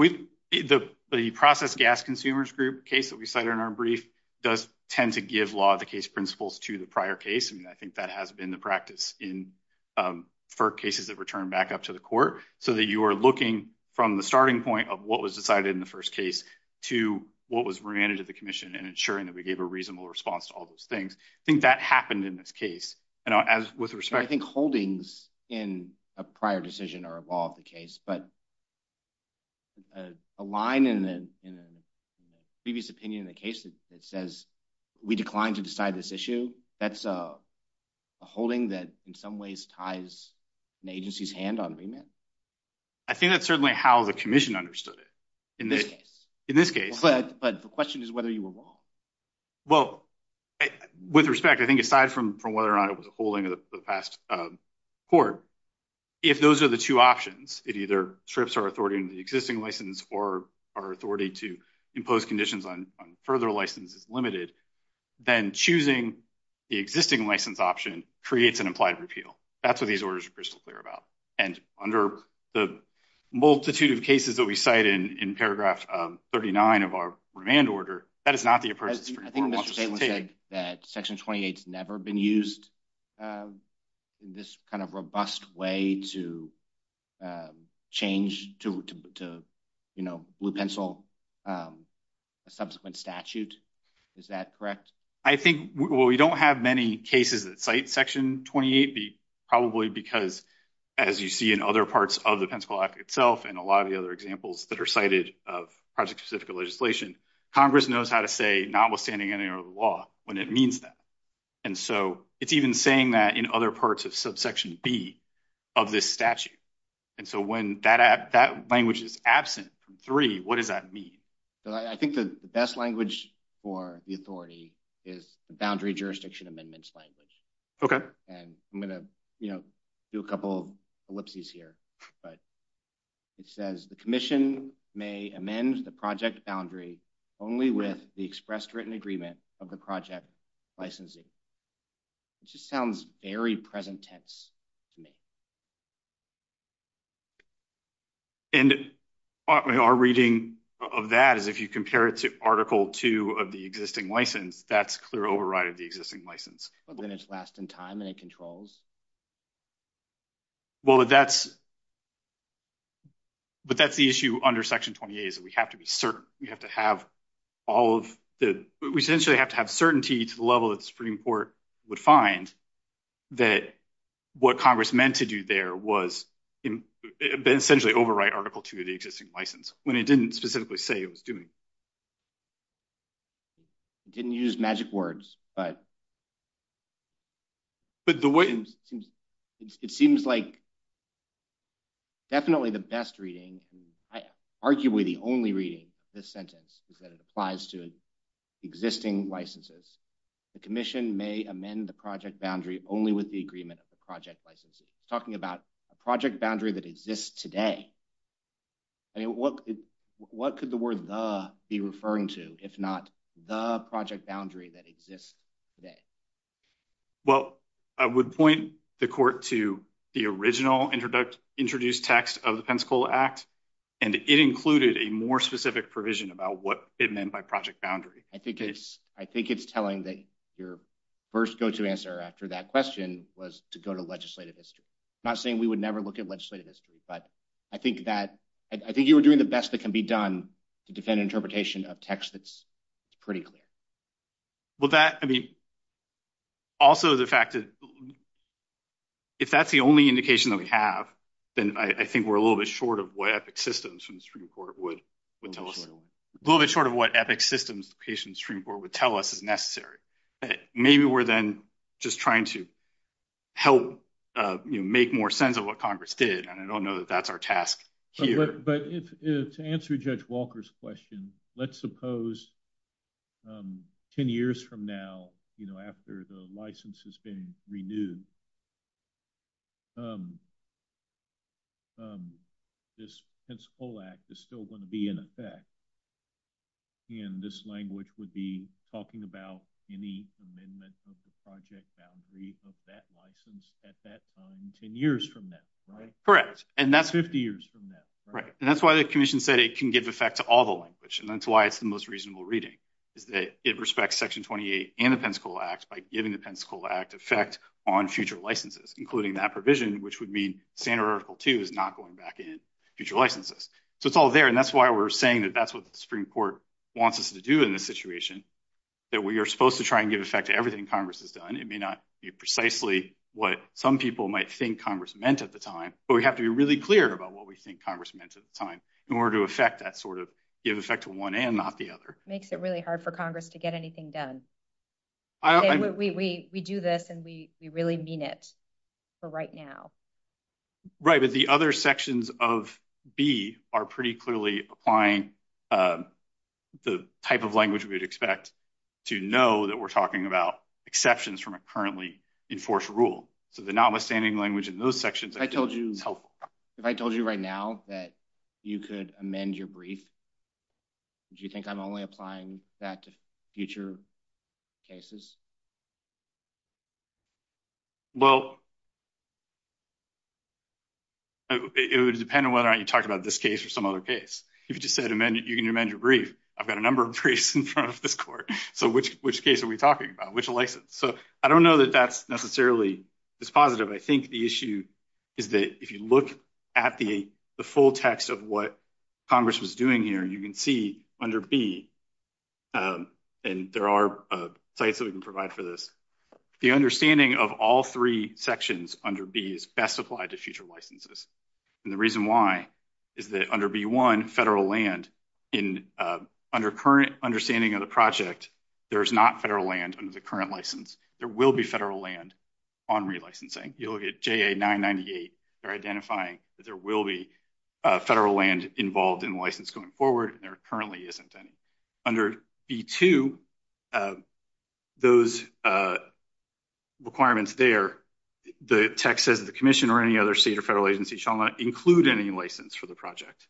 the process gas consumers group case that we cited in our brief does tend to give law of the case principles to the prior case, and I think that has been the practice in FERC cases that return back up to the court so that you are looking from the starting point of what was decided in the first case to what was granted to the commission and ensuring that we gave a reasonable response to all those things. I think that happened in this case. I think holdings in a prior decision are a law of the case, but the line in the previous opinion in the case that says we declined to decide this issue, that's a holding that in some ways ties an agency's hand on remand. I think that's certainly how the commission understood it in this case. But the question is whether you were wrong. Well, with respect, I think aside from whether or not it was a holding of the past court, if those are the two options, it either strips our authority in the existing license or our authority to impose conditions on further license is limited, then choosing the existing license option creates an implied repeal. That's what these orders are crystal clear about. And under the multitude of cases that we cite in paragraph 39 of our remand order, that is not the appropriate form. Section 28 has never been used in this kind of robust way to change to blue pencil subsequent statute. Is that correct? I think we don't have many cases that cite Section 28, probably because as you see in other parts of the Pension Law Act itself and a lot of the other examples that are cited of project-specific legislation, Congress knows how to say notwithstanding any other law when it means that. And so it's even saying that in other parts of subsection B of this statute. And so when that language is absent from 3, what does that mean? I think the best language for the authority is the boundary jurisdiction amendments language. And I'm going to do a couple of ellipses here. But it says the commission may amend the project boundary only with the expressed written agreement of the project licensing. It just sounds very present tense to me. And our reading of that is if you compare it to Article 2 of the existing license, that's clear override of the existing license. But then it's last in time and it controls? Well, but that's the issue under Section 28 is that we have to be certain. We have to have all of it. We essentially have to have certainty to the level that the Supreme Court would find that what Congress meant to do there was essentially overwrite Article 2 of the existing license when it didn't specifically say it was doing. It didn't use magic words, but it seems like definitely the best reading. Arguably the only reading of this sentence is that it applies to existing licenses. The commission may amend the project boundary only with the agreement of the project licensing. We're talking about a project boundary that exists today. What could the word the be referring to if not the project boundary that exists today? Well, I would point the court to the original introduced text of the Pensacola Act, and it included a more specific provision about what it meant by project boundary. I think it's telling that your first go-to answer after that question was to go to legislative history. I'm not saying we would never look at legislative history, but I think you were doing the best that can be done to defend interpretation of text that's pretty clear. Also, the fact that if that's the only indication that we have, then I think we're a little bit short of what ethic systems the Supreme Court would tell us is necessary. Maybe we're then just trying to help make more sense of what Congress did, and I don't know that that's our task here. But to answer Judge Walker's question, let's suppose 10 years from now after the license has been renewed, this Pensacola Act is still going to be in effect, and this language would be talking about any amendment of the project boundary of that license at that time, 10 years from now, right? 50 years from now. Right, and that's why the Commission said it can give effect to all the language, and that's why it's the most reasonable reading. It respects Section 28 and the Pensacola Act by giving the Pensacola Act effect on future licenses, including that provision, which would mean Standard Article 2 is not going back in future licenses. So it's all there, and that's why we're saying that that's what the Supreme Court wants us to do in this situation, that we are supposed to try and give effect to everything Congress has done. It may not be precisely what some people might think Congress meant at the time, but we have to be really clear about what we think Congress meant at the time in order to give effect to one end, not the other. It makes it really hard for Congress to get anything done. We do this, and we really mean it for right now. Right, but the other sections of B are pretty clearly applying the type of language we would expect to know that we're talking about exceptions from a currently enforced rule. So the notwithstanding language in those sections is helpful. If I told you right now that you could amend your brief, do you think I'm only applying that to future cases? Well, it would depend on whether or not you talk about this case or some other case. If you just said you can amend your brief, I've got a number of briefs in front of this court. So which case are we talking about? Which license? So I don't know that that's necessarily as positive. I think the issue is that if you look at the full text of what Congress was doing here, you can see under B, and there are sites that we can provide for this, the understanding of all three sections under B is best applied to future licenses. And the reason why is that under B1, federal land, under current understanding of the project, there is not federal land under the current license. There will be federal land on relicensing. You look at JA998, they're identifying that there will be federal land involved in license going forward, and there currently isn't any. Under B2, those requirements there, the text says the commission or any other state or federal agency shall not include any license for the project.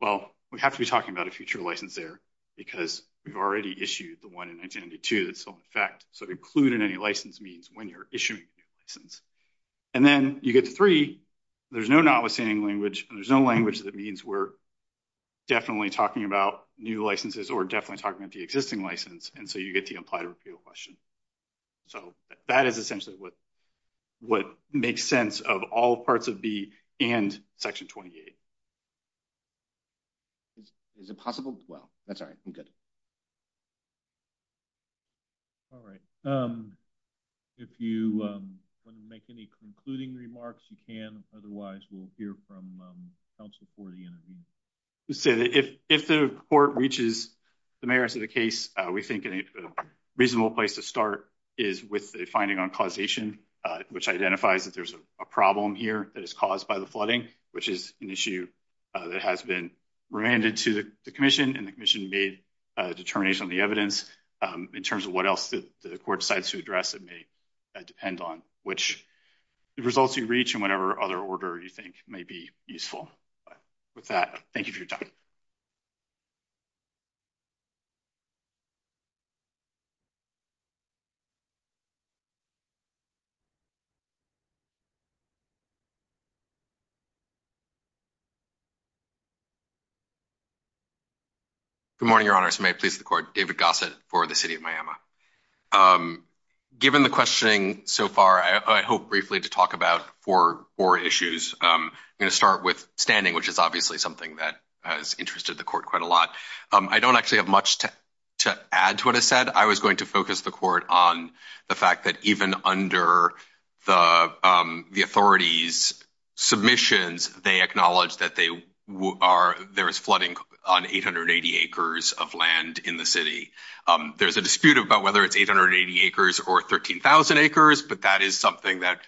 Well, we have to be talking about a future license there because we've already issued the one in 1992 that's still in effect, so to include in any license means when you're issuing a license. And then you get the three, there's no notwithstanding language, there's no language that means we're definitely talking about new licenses or definitely talking about the existing license, and so you get the apply to repeal question. So that is essentially what makes sense of all parts of B and Section 28. Is it possible? Well, that's all right. We're good. All right. If you want to make any concluding remarks, you can. Otherwise, we'll hear from counsel for the interview. If the court reaches the merits of the case, we think a reasonable place to start is with the finding on causation, which identifies that there's a problem here that is caused by the flooding, which is an issue that has been remanded to the commission. And the commission made a determination on the evidence in terms of what else the court decides to address. It may depend on which results you reach and whatever other order you think may be useful with that. Thank you for your time. Good morning, Your Honor. May it please the court. David Gossett for the city of Miami. Given the questioning so far, I hope briefly to talk about four issues. I'm going to start with standing, which is obviously something that has interested the court quite a lot. I don't actually have much to add to what I said. I was going to focus the court on the fact that even under the authorities' submissions, they acknowledge that there is flooding on 880 acres of land in the city. There's a dispute about whether it's 880 acres or 13,000 acres. But that is something that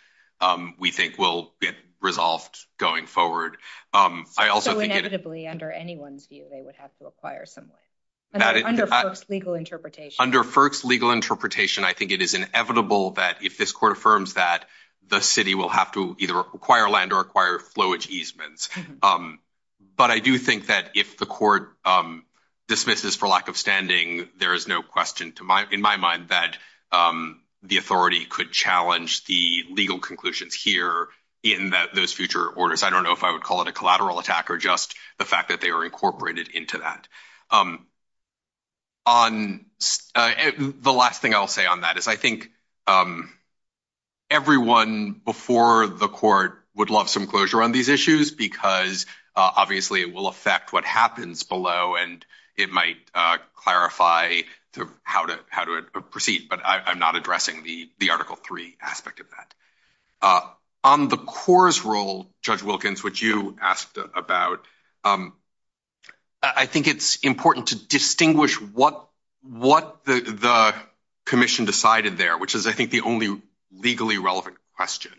we think will get resolved going forward. So inevitably, under anyone's view, they would have to acquire some land? Under FERC's legal interpretation? Under FERC's legal interpretation, I think it is inevitable that if this court affirms that, the city will have to either acquire land or acquire flowage easements. But I do think that if the court dismisses for lack of standing, there is no question in my mind that the authority could challenge the legal conclusions here in those future orders. I don't know if I would call it a collateral attack or just the fact that they are incorporated into that. The last thing I'll say on that is I think everyone before the court would love some closure on these issues because obviously it will affect what happens below, and it might clarify how to proceed. But I'm not addressing the Article III aspect of that. On the CORE's role, Judge Wilkins, which you asked about, I think it's important to distinguish what the commission decided there, which is I think the only legally relevant question.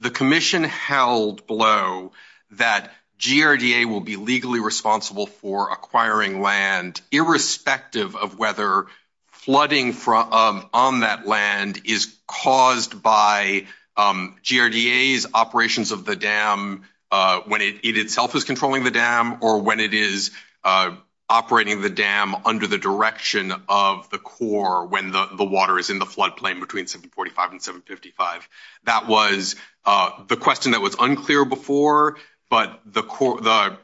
The commission held below that GRDA will be legally responsible for acquiring land irrespective of whether flooding on that land is caused by GRDA's operations of the dam when it itself is controlling the dam or when it is operating the dam under the direction of the CORE when the water is in the floodplain between 745 and 755. That was the question that was unclear before, but the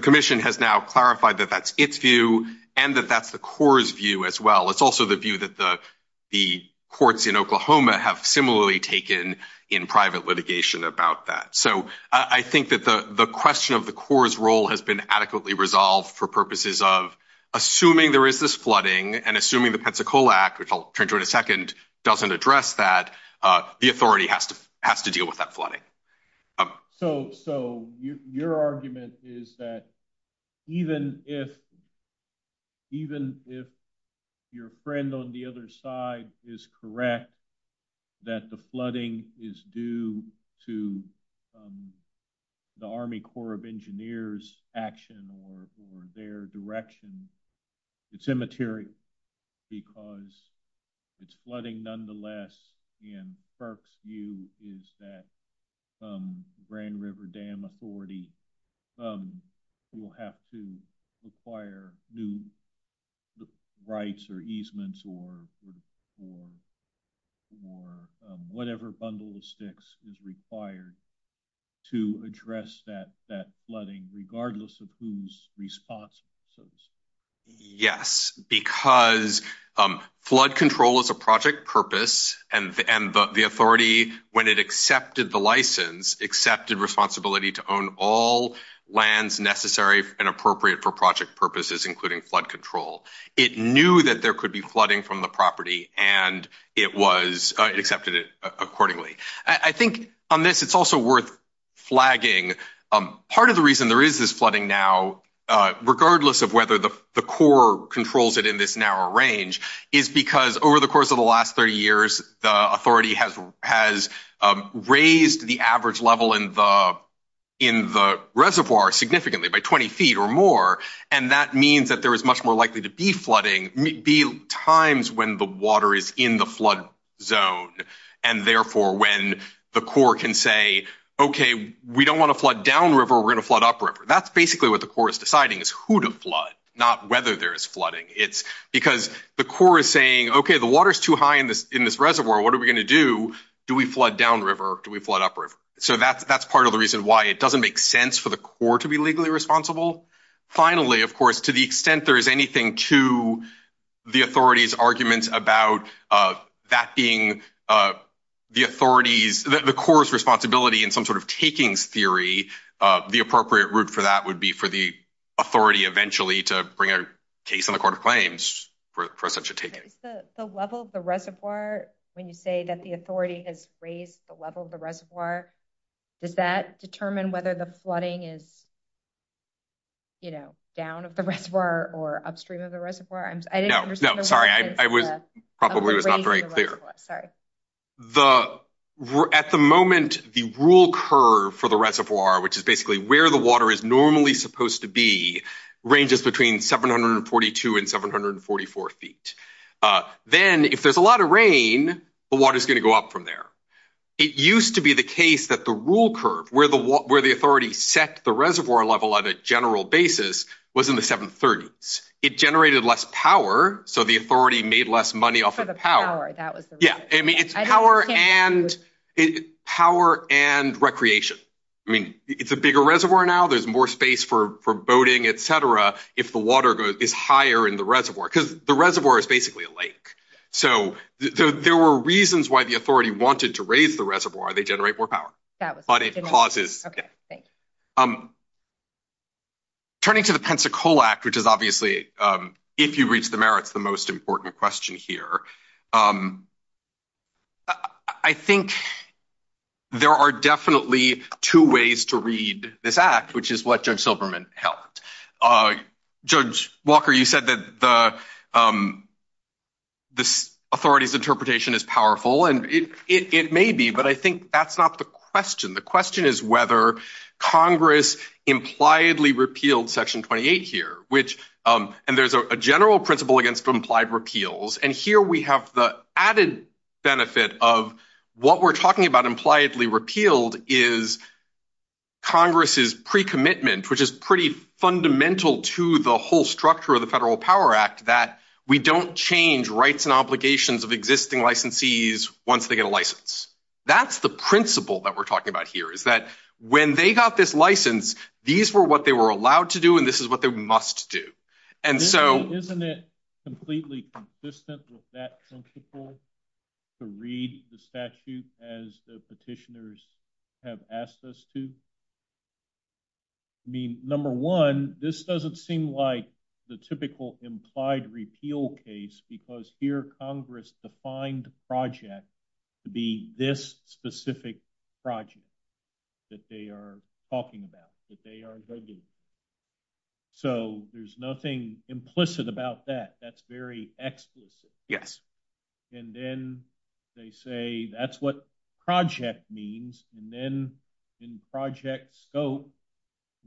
commission has now clarified that that's its view and that that's the CORE's view as well. It's also the view that the courts in Oklahoma have similarly taken in private litigation about that. So I think that the question of the CORE's role has been adequately resolved for purposes of assuming there is this flooding and assuming the Pensacola Act, which I'll turn to in a second, doesn't address that, the authority has to deal with that flooding. So your argument is that even if your friend on the other side is correct that the flooding is due to the Army Corps of Engineers' action or their direction, it's immaterial because it's flooding nonetheless and FERC's view is that the Grand River Dam Authority will have to require new rights or easements or whatever bundle of sticks is required to address that flooding regardless of who's responsible. Yes, because flood control is a project purpose and the authority, when it accepted the license, accepted responsibility to own all lands necessary and appropriate for project purposes including flood control. It knew that there could be flooding from the property and it accepted it accordingly. I think on this it's also worth flagging part of the reason there is this flooding now regardless of whether the CORE controls it in this narrow range is because over the course of the last 30 years the authority has raised the average level in the reservoir significantly by 20 feet or more and that means that there is much more likely to be times when the water is in the flood zone and therefore when the CORE can say, okay, we don't want to flood downriver, we're going to flood upriver. That's basically what the CORE is deciding is who to flood, not whether there is flooding. It's because the CORE is saying, okay, the water is too high in this reservoir, what are we going to do? Do we flood downriver or do we flood upriver? So that's part of the reason why it doesn't make sense for the CORE to be legally responsible. Finally, of course, to the extent there is anything to the authority's argument about that being the CORE's responsibility in some sort of taking theory, the appropriate route for that would be for the authority eventually to bring a case in the Court of Claims for such a taking. The level of the reservoir, when you say that the authority has raised the level of the reservoir, does that determine whether the flooding is down of the reservoir or upstream of the reservoir? I didn't understand the question. No, sorry, I probably was not very clear. At the moment, the rule curve for the reservoir, which is basically where the water is normally supposed to be, ranges between 742 and 744 feet. Then, if there's a lot of rain, the water is going to go up from there. It used to be the case that the rule curve, where the authority set the reservoir level on a general basis, was in the 730s. It generated less power, so the authority made less money off of the power. For the power, that was the rule. Yeah, I mean, it's power and recreation. I mean, it's a bigger reservoir now. There's more space for boating, et cetera, if the water is higher in the reservoir, because the reservoir is basically a lake. There were reasons why the authority wanted to raise the reservoir. They generate more power, but it causes— Okay, thanks. Turning to the Pensacola Act, which is obviously, if you reach the merits, the most important question here, I think there are definitely two ways to read this act, which is what Judge Silverman held. Judge Walker, you said that the authority's interpretation is powerful, and it may be, but I think that's not the question. The question is whether Congress impliedly repealed Section 28 here, and there's a general principle against implied repeals, and here we have the added benefit of what we're talking about, fundamental to the whole structure of the Federal Power Act, that we don't change rights and obligations of existing licensees once they get a license. That's the principle that we're talking about here, is that when they got this license, these were what they were allowed to do, and this is what they must do. And so— Isn't it completely consistent with that principle to read the statute as the petitioners have asked us to? I mean, number one, this doesn't seem like the typical implied repeal case, because here Congress defined project to be this specific project that they are talking about, that they are regulating. So there's nothing implicit about that. That's very explicit. Yes. And then they say that's what project means, and then in project scope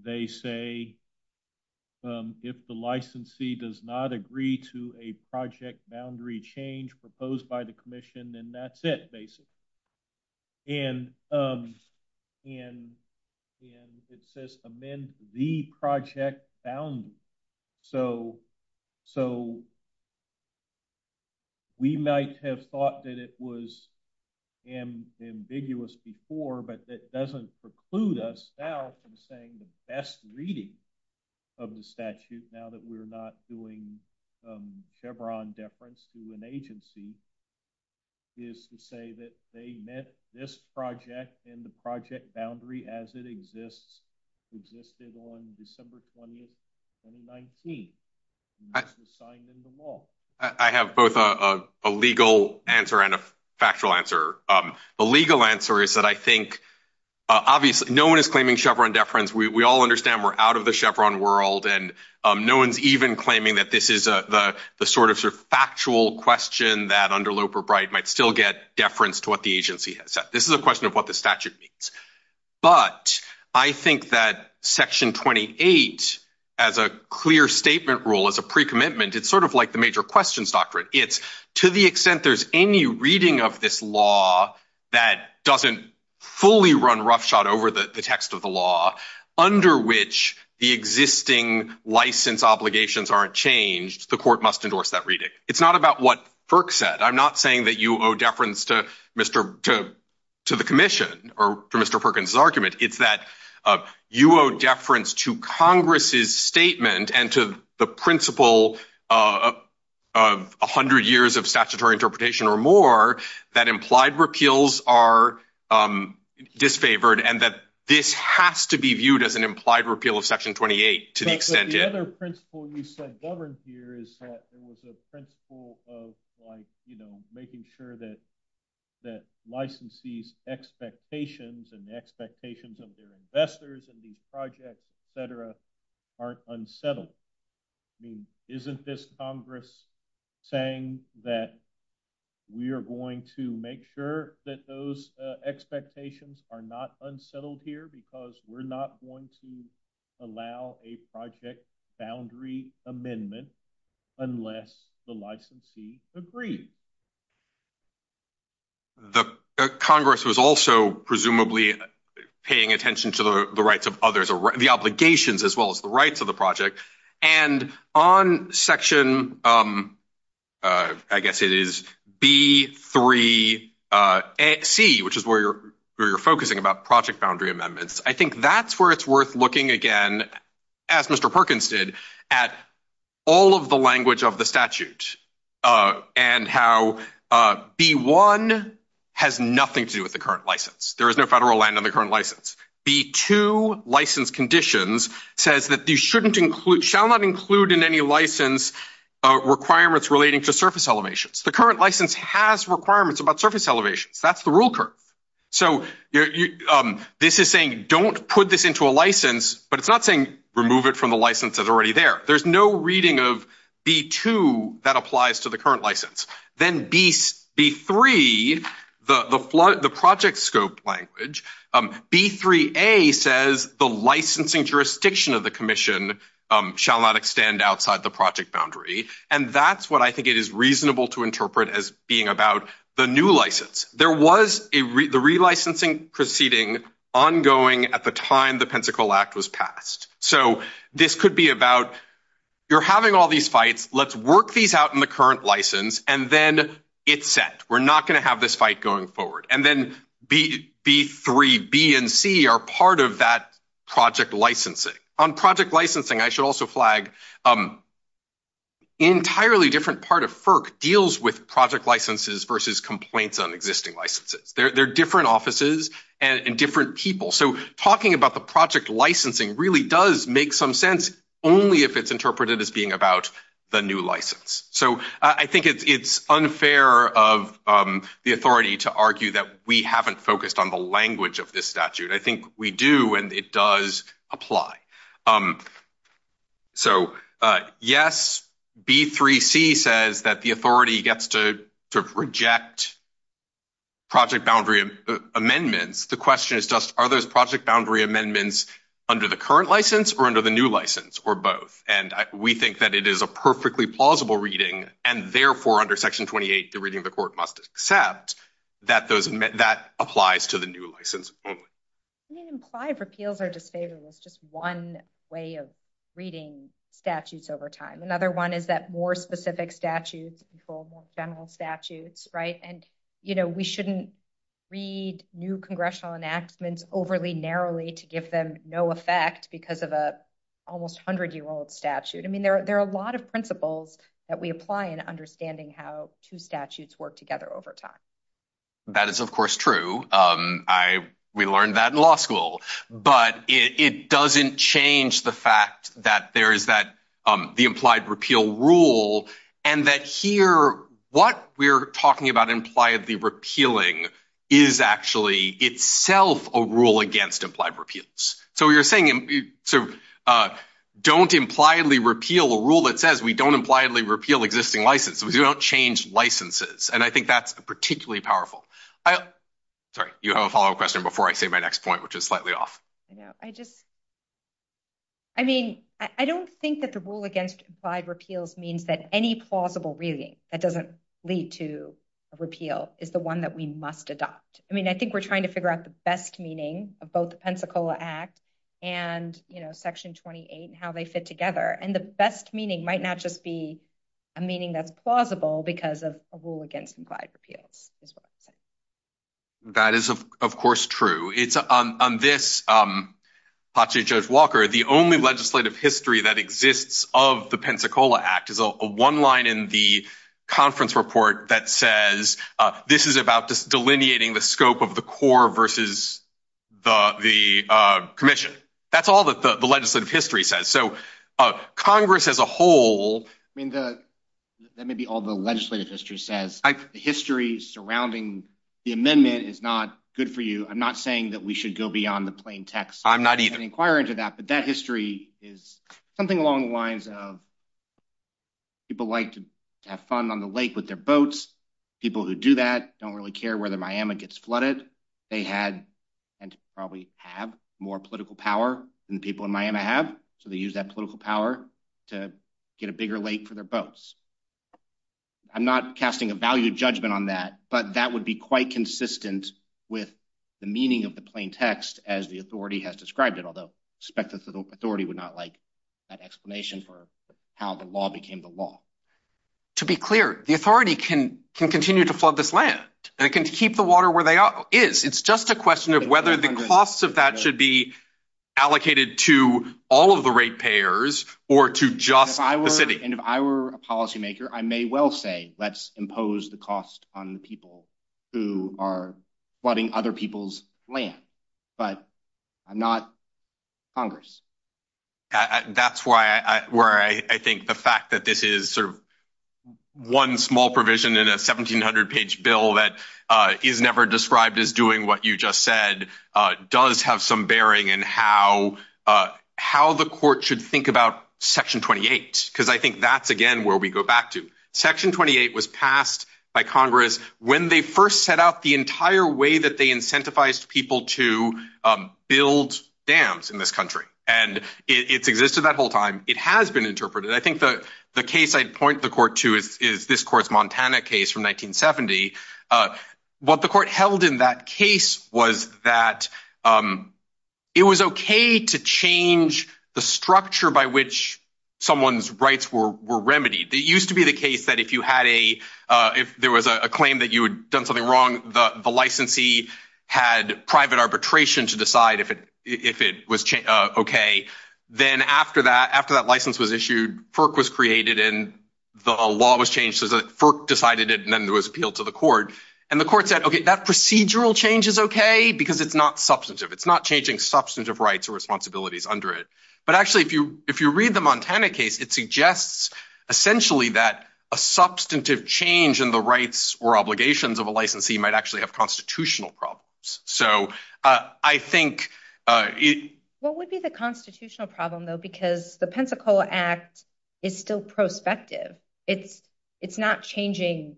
they say, if the licensee does not agree to a project boundary change proposed by the commission, then that's it, basically. And it says amend the project boundary. So we might have thought that it was ambiguous before, but it doesn't preclude us now from saying the best reading of the statute, now that we're not doing Chevron deference to an agency, is to say that they meant this project and the project boundary as it exists existed on December 20th, 2019. It was signed into law. I have both a legal answer and a factual answer. The legal answer is that I think, obviously, no one is claiming Chevron deference. We all understand we're out of the Chevron world, and no one's even claiming that this is the sort of factual question that, under Loeb or Bright, might still get deference to what the agency has said. This is a question of what the statute means. But I think that Section 28, as a clear statement rule, as a pre-commitment, it's sort of like the major questions doctrine. It's to the extent there's any reading of this law that doesn't fully run roughshod over the text of the law, under which the existing license obligations aren't changed, the court must endorse that reading. It's not about what FERC said. I'm not saying that you owe deference to the commission or to Mr. Perkins' argument. It's that you owe deference to Congress' statement and to the principle of 100 years of statutory interpretation or more that implied repeals are disfavored and that this has to be viewed as an implied repeal of Section 28 to the extent it is. The other principle you said governed here is that there was a principle of making sure that licensees' expectations and the expectations of their investors and these projects, et cetera, aren't unsettled. I mean, isn't this Congress saying that we are going to make sure that those expectations are not unsettled here because we're not going to allow a project boundary amendment unless the licensee agrees? The Congress was also presumably paying attention to the rights of others, the obligations as well as the rights of the project. And on Section, I guess it is B3C, which is where you're focusing about project boundary amendments. I think that's where it's worth looking again, as Mr. Perkins did, at all of the language of the statute and how B1 has nothing to do with the current license. There is no federal land on the current license. B2, license conditions, says that you shall not include in any license requirements relating to surface elevations. The current license has requirements about surface elevations. That's the rule curve. So this is saying don't put this into a license, but it's not saying remove it from the license that's already there. There's no reading of B2 that applies to the current license. Then B3, the project scope language, B3A says the licensing jurisdiction of the commission shall not extend outside the project boundary. And that's what I think it is reasonable to interpret as being about the new license. There was the relicensing proceeding ongoing at the time the Pensacola Act was passed. So this could be about you're having all these fights, let's work these out in the current license, and then it's set. We're not going to have this fight going forward. And then B3B and C are part of that project licensing. On project licensing, I should also flag, an entirely different part of FERC deals with project licenses versus complaints on existing licenses. They're different offices and different people. So talking about the project licensing really does make some sense only if it's interpreted as being about the new license. So I think it's unfair of the authority to argue that we haven't focused on the language of this statute. I think we do, and it does apply. So yes, B3C says that the authority gets to reject project boundary amendments. The question is just are those project boundary amendments under the current license or under the new license or both? And we think that it is a perfectly plausible reading, and therefore under Section 28, the reading of the court must accept that that applies to the new license only. I mean, implied repeals are disfavorable. It's just one way of reading statutes over time. Another one is that more specific statutes control more general statutes, right? And we shouldn't read new congressional enactments overly narrowly to give them no effect because of an almost 100-year-old statute. I mean, there are a lot of principles that we apply in understanding how two statutes work together over time. That is, of course, true. We learned that in law school. But it doesn't change the fact that there is the implied repeal rule and that here what we're talking about impliedly repealing is actually itself a rule against implied repeals. So you're saying don't impliedly repeal a rule that says we don't impliedly repeal existing licenses. We don't change licenses. And I think that's particularly powerful. Sorry, you have a follow-up question before I say my next point, which is slightly off. I mean, I don't think that the rule against implied repeals means that any plausible reading that doesn't lead to a repeal is the one that we must adopt. I mean, I think we're trying to figure out the best meaning of both the Pensacola Act and, you know, Section 28 and how they fit together. And the best meaning might not just be a meaning that's plausible because of a rule against implied repeals. That is, of course, true. On this, I'll talk to Judge Walker, the only legislative history that exists of the Pensacola Act is one line in the conference report that says this is about delineating the scope of the core versus the commission. That's all that the legislative history says. So Congress as a whole... I mean, that may be all the legislative history says. The history surrounding the amendment is not good for you. I'm not saying that we should go beyond the plain text... I'm not either. ...of the inquiry into that, but that history is something along the lines of people like to have fun on the lake with their boats. People who do that don't really care whether Miami gets flooded. They had and probably have more political power than the people in Miami have. So they use that political power to get a bigger lake for their boats. I'm not casting a value judgment on that, but that would be quite consistent with the meaning of the plain text as the authority has described it, although I suspect the authority would not like that explanation for how the law became the law. To be clear, the authority can continue to flood this land. They can keep the water where it is. It's just a question of whether the costs of that should be allocated to all of the rate payers or to just the city. And if I were a policymaker, I may well say, let's impose the cost on the people who are flooding other people's land. But I'm not Congress. That's where I think the fact that this is one small provision in a 1,700-page bill that is never described as doing what you just said does have some bearing in how the court should think about Section 28. Because I think that's, again, where we go back to. Section 28 was passed by Congress when they first set up the entire way that they incentivize people to build dams in this country. And it's existed that whole time. It has been interpreted. I think the case I'd point the court to is this court's Montana case from 1970. What the court held in that case was that it was okay to change the structure by which someone's rights were remedied. It used to be the case that if there was a claim that you had done something wrong, the licensee had private arbitration to decide if it was okay. Then after that license was issued, FERC was created, and the law was changed so that FERC decided it, and then there was appeal to the court. And the court said, okay, that procedural change is okay because it's not substantive. It's not changing substantive rights or responsibilities under it. But actually, if you read the Montana case, it suggests essentially that a substantive change in the rights or obligations of a licensee might actually have constitutional problems. So I think it… What would be the constitutional problem, though, because the Pensacola Act is still prospective. It's not changing…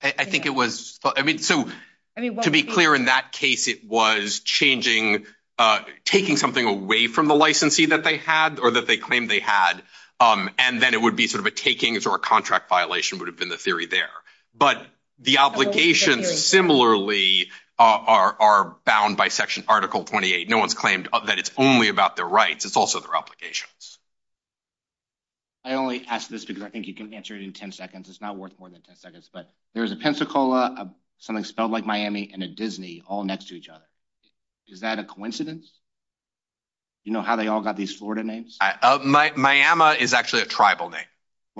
I think it was… To be clear, in that case, it was taking something away from the licensee that they had or that they claimed they had, and then it would be sort of a takings or a contract violation would have been the theory there. But the obligations similarly are bound by Article 28. No one's claimed that it's only about their rights. It's also their obligations. I only ask this because I think you can answer it in 10 seconds. It's not worth more than 10 seconds. But there's a Pensacola, something spelled like Miami, and a Disney all next to each other. Is that a coincidence? Do you know how they all got these Florida names? Miami is actually a tribal name.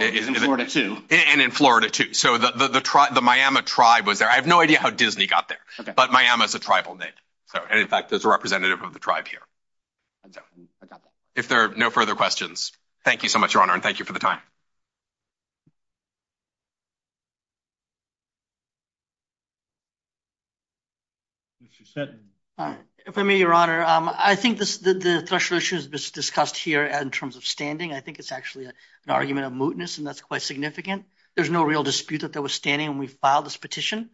And in Florida, too. And in Florida, too. So the Miami tribe was there. I have no idea how Disney got there, but Miami is a tribal name. And, in fact, there's a representative of the tribe here. I got that. If there are no further questions, thank you so much, Your Honor, and thank you for the time. If I may, Your Honor, I think the threshold issues discussed here in terms of standing, I think it's actually an argument of mootness, and that's quite significant. There's no real dispute that there was standing when we filed this petition.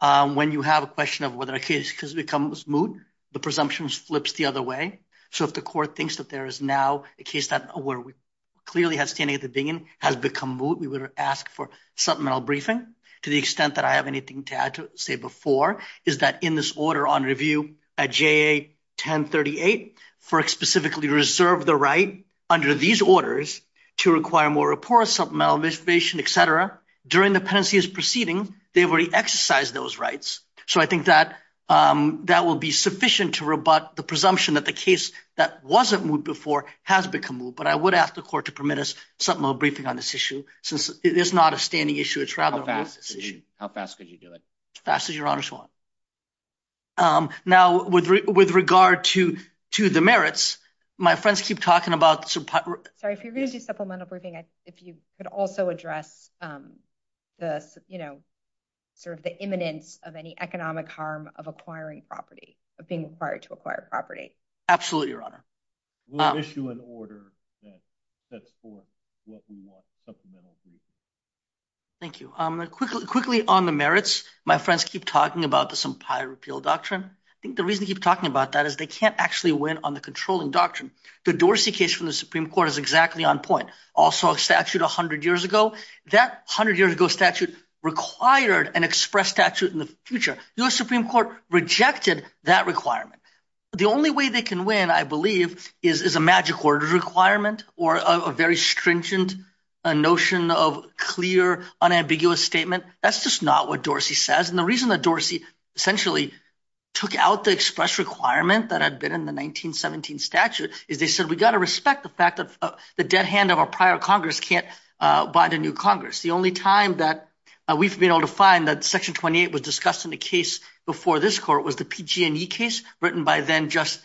When you have a question of whether a case becomes moot, the presumption flips the other way. So if the court thinks that there is now a case that clearly has standing at the beginning, has become moot, we would ask for supplemental briefing. To the extent that I have anything to add to say before, is that in this order on review at JA 1038, for specifically reserve the right under these orders to require more reports, supplemental information, et cetera, during the penalty's proceeding, they've already exercised those rights. So I think that that will be sufficient to rebut the presumption that the case that wasn't moot before has become moot, but I would ask the court to permit us supplemental briefing on this issue since it is not a standing issue, it's rather a moot issue. How fast could you do it? As fast as Your Honor so wants. Now, with regard to the merits, my friends keep talking about... Sorry, if you're going to do supplemental briefing, if you could also address the, you know, sort of the imminence of any economic harm of acquiring property, of being required to acquire property. Absolutely, Your Honor. We'll issue an order that sets forth what we want supplemental briefing. Thank you. Quickly on the merits, my friends keep talking about this empire repeal doctrine. I think the reason they keep talking about that is they can't actually win on the controlling doctrine. The Dorsey case from the Supreme Court is exactly on point. Also a statute 100 years ago, that 100 years ago statute required an express statute in the future. U.S. Supreme Court rejected that requirement. The only way they can win, I believe, is a magic order requirement or a very stringent notion of clear, unambiguous statement. That's just not what Dorsey says. And the reason that Dorsey essentially took out the express requirement that had been in the 1917 statute is they said, we've got to respect the fact that the dead hand of a prior Congress can't bind a new Congress. The only time that we've been able to find that Section 28 was discussed in the case before this court was the PG&E case written by then Judge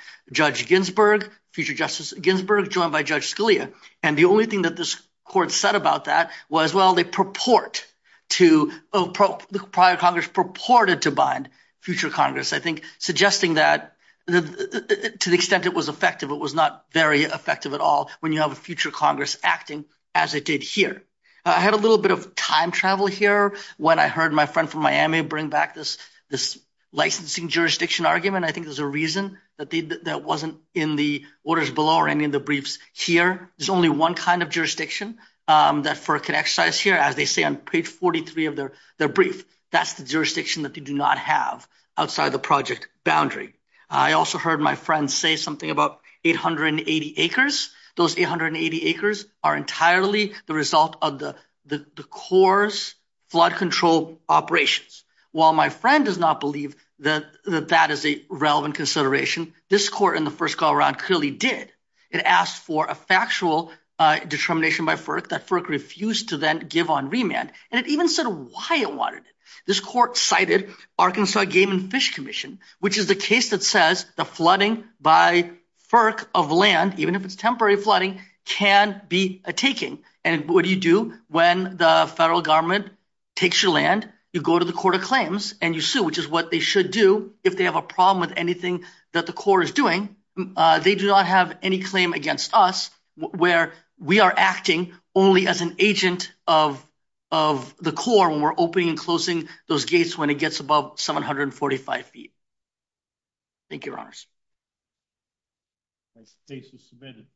Ginsburg, future Justice Ginsburg, joined by Judge Scalia. And the only thing that this court said about that was, well, they purport to, the prior Congress purported to bind future Congress. I think suggesting that to the extent it was effective, it was not very effective at all when you have a future Congress acting as it did here. I had a little bit of time travel here when I heard my friend from Miami bring back this licensing jurisdiction argument. I think there's a reason that wasn't in the orders below or any of the briefs here. There's only one kind of jurisdiction that FERC can exercise here. As they say on page 43 of their brief, that's the jurisdiction that they do not have outside the project boundary. I also heard my friend say something about 880 acres. Those 880 acres are entirely the result of the Corps' flood control operations. While my friend does not believe that that is a relevant consideration, this court in the first call around clearly did. It asked for a factual determination by FERC that FERC refused to then give on remand. And it even said why it wanted it. This court cited Arkansas Game and Fish Commission, which is the case that says the flooding by FERC of land, even if it's temporary flooding, can be a taking. And what do you do when the federal government takes your land? You go to the Court of Claims and you sue, which is what they should do if they have a problem with anything that the Corps is doing. They do not have any claim against us where we are acting only as an agent of the Corps when we're opening and closing those gates when it gets above 745 feet. Thank you, Your Honors. The case is submitted.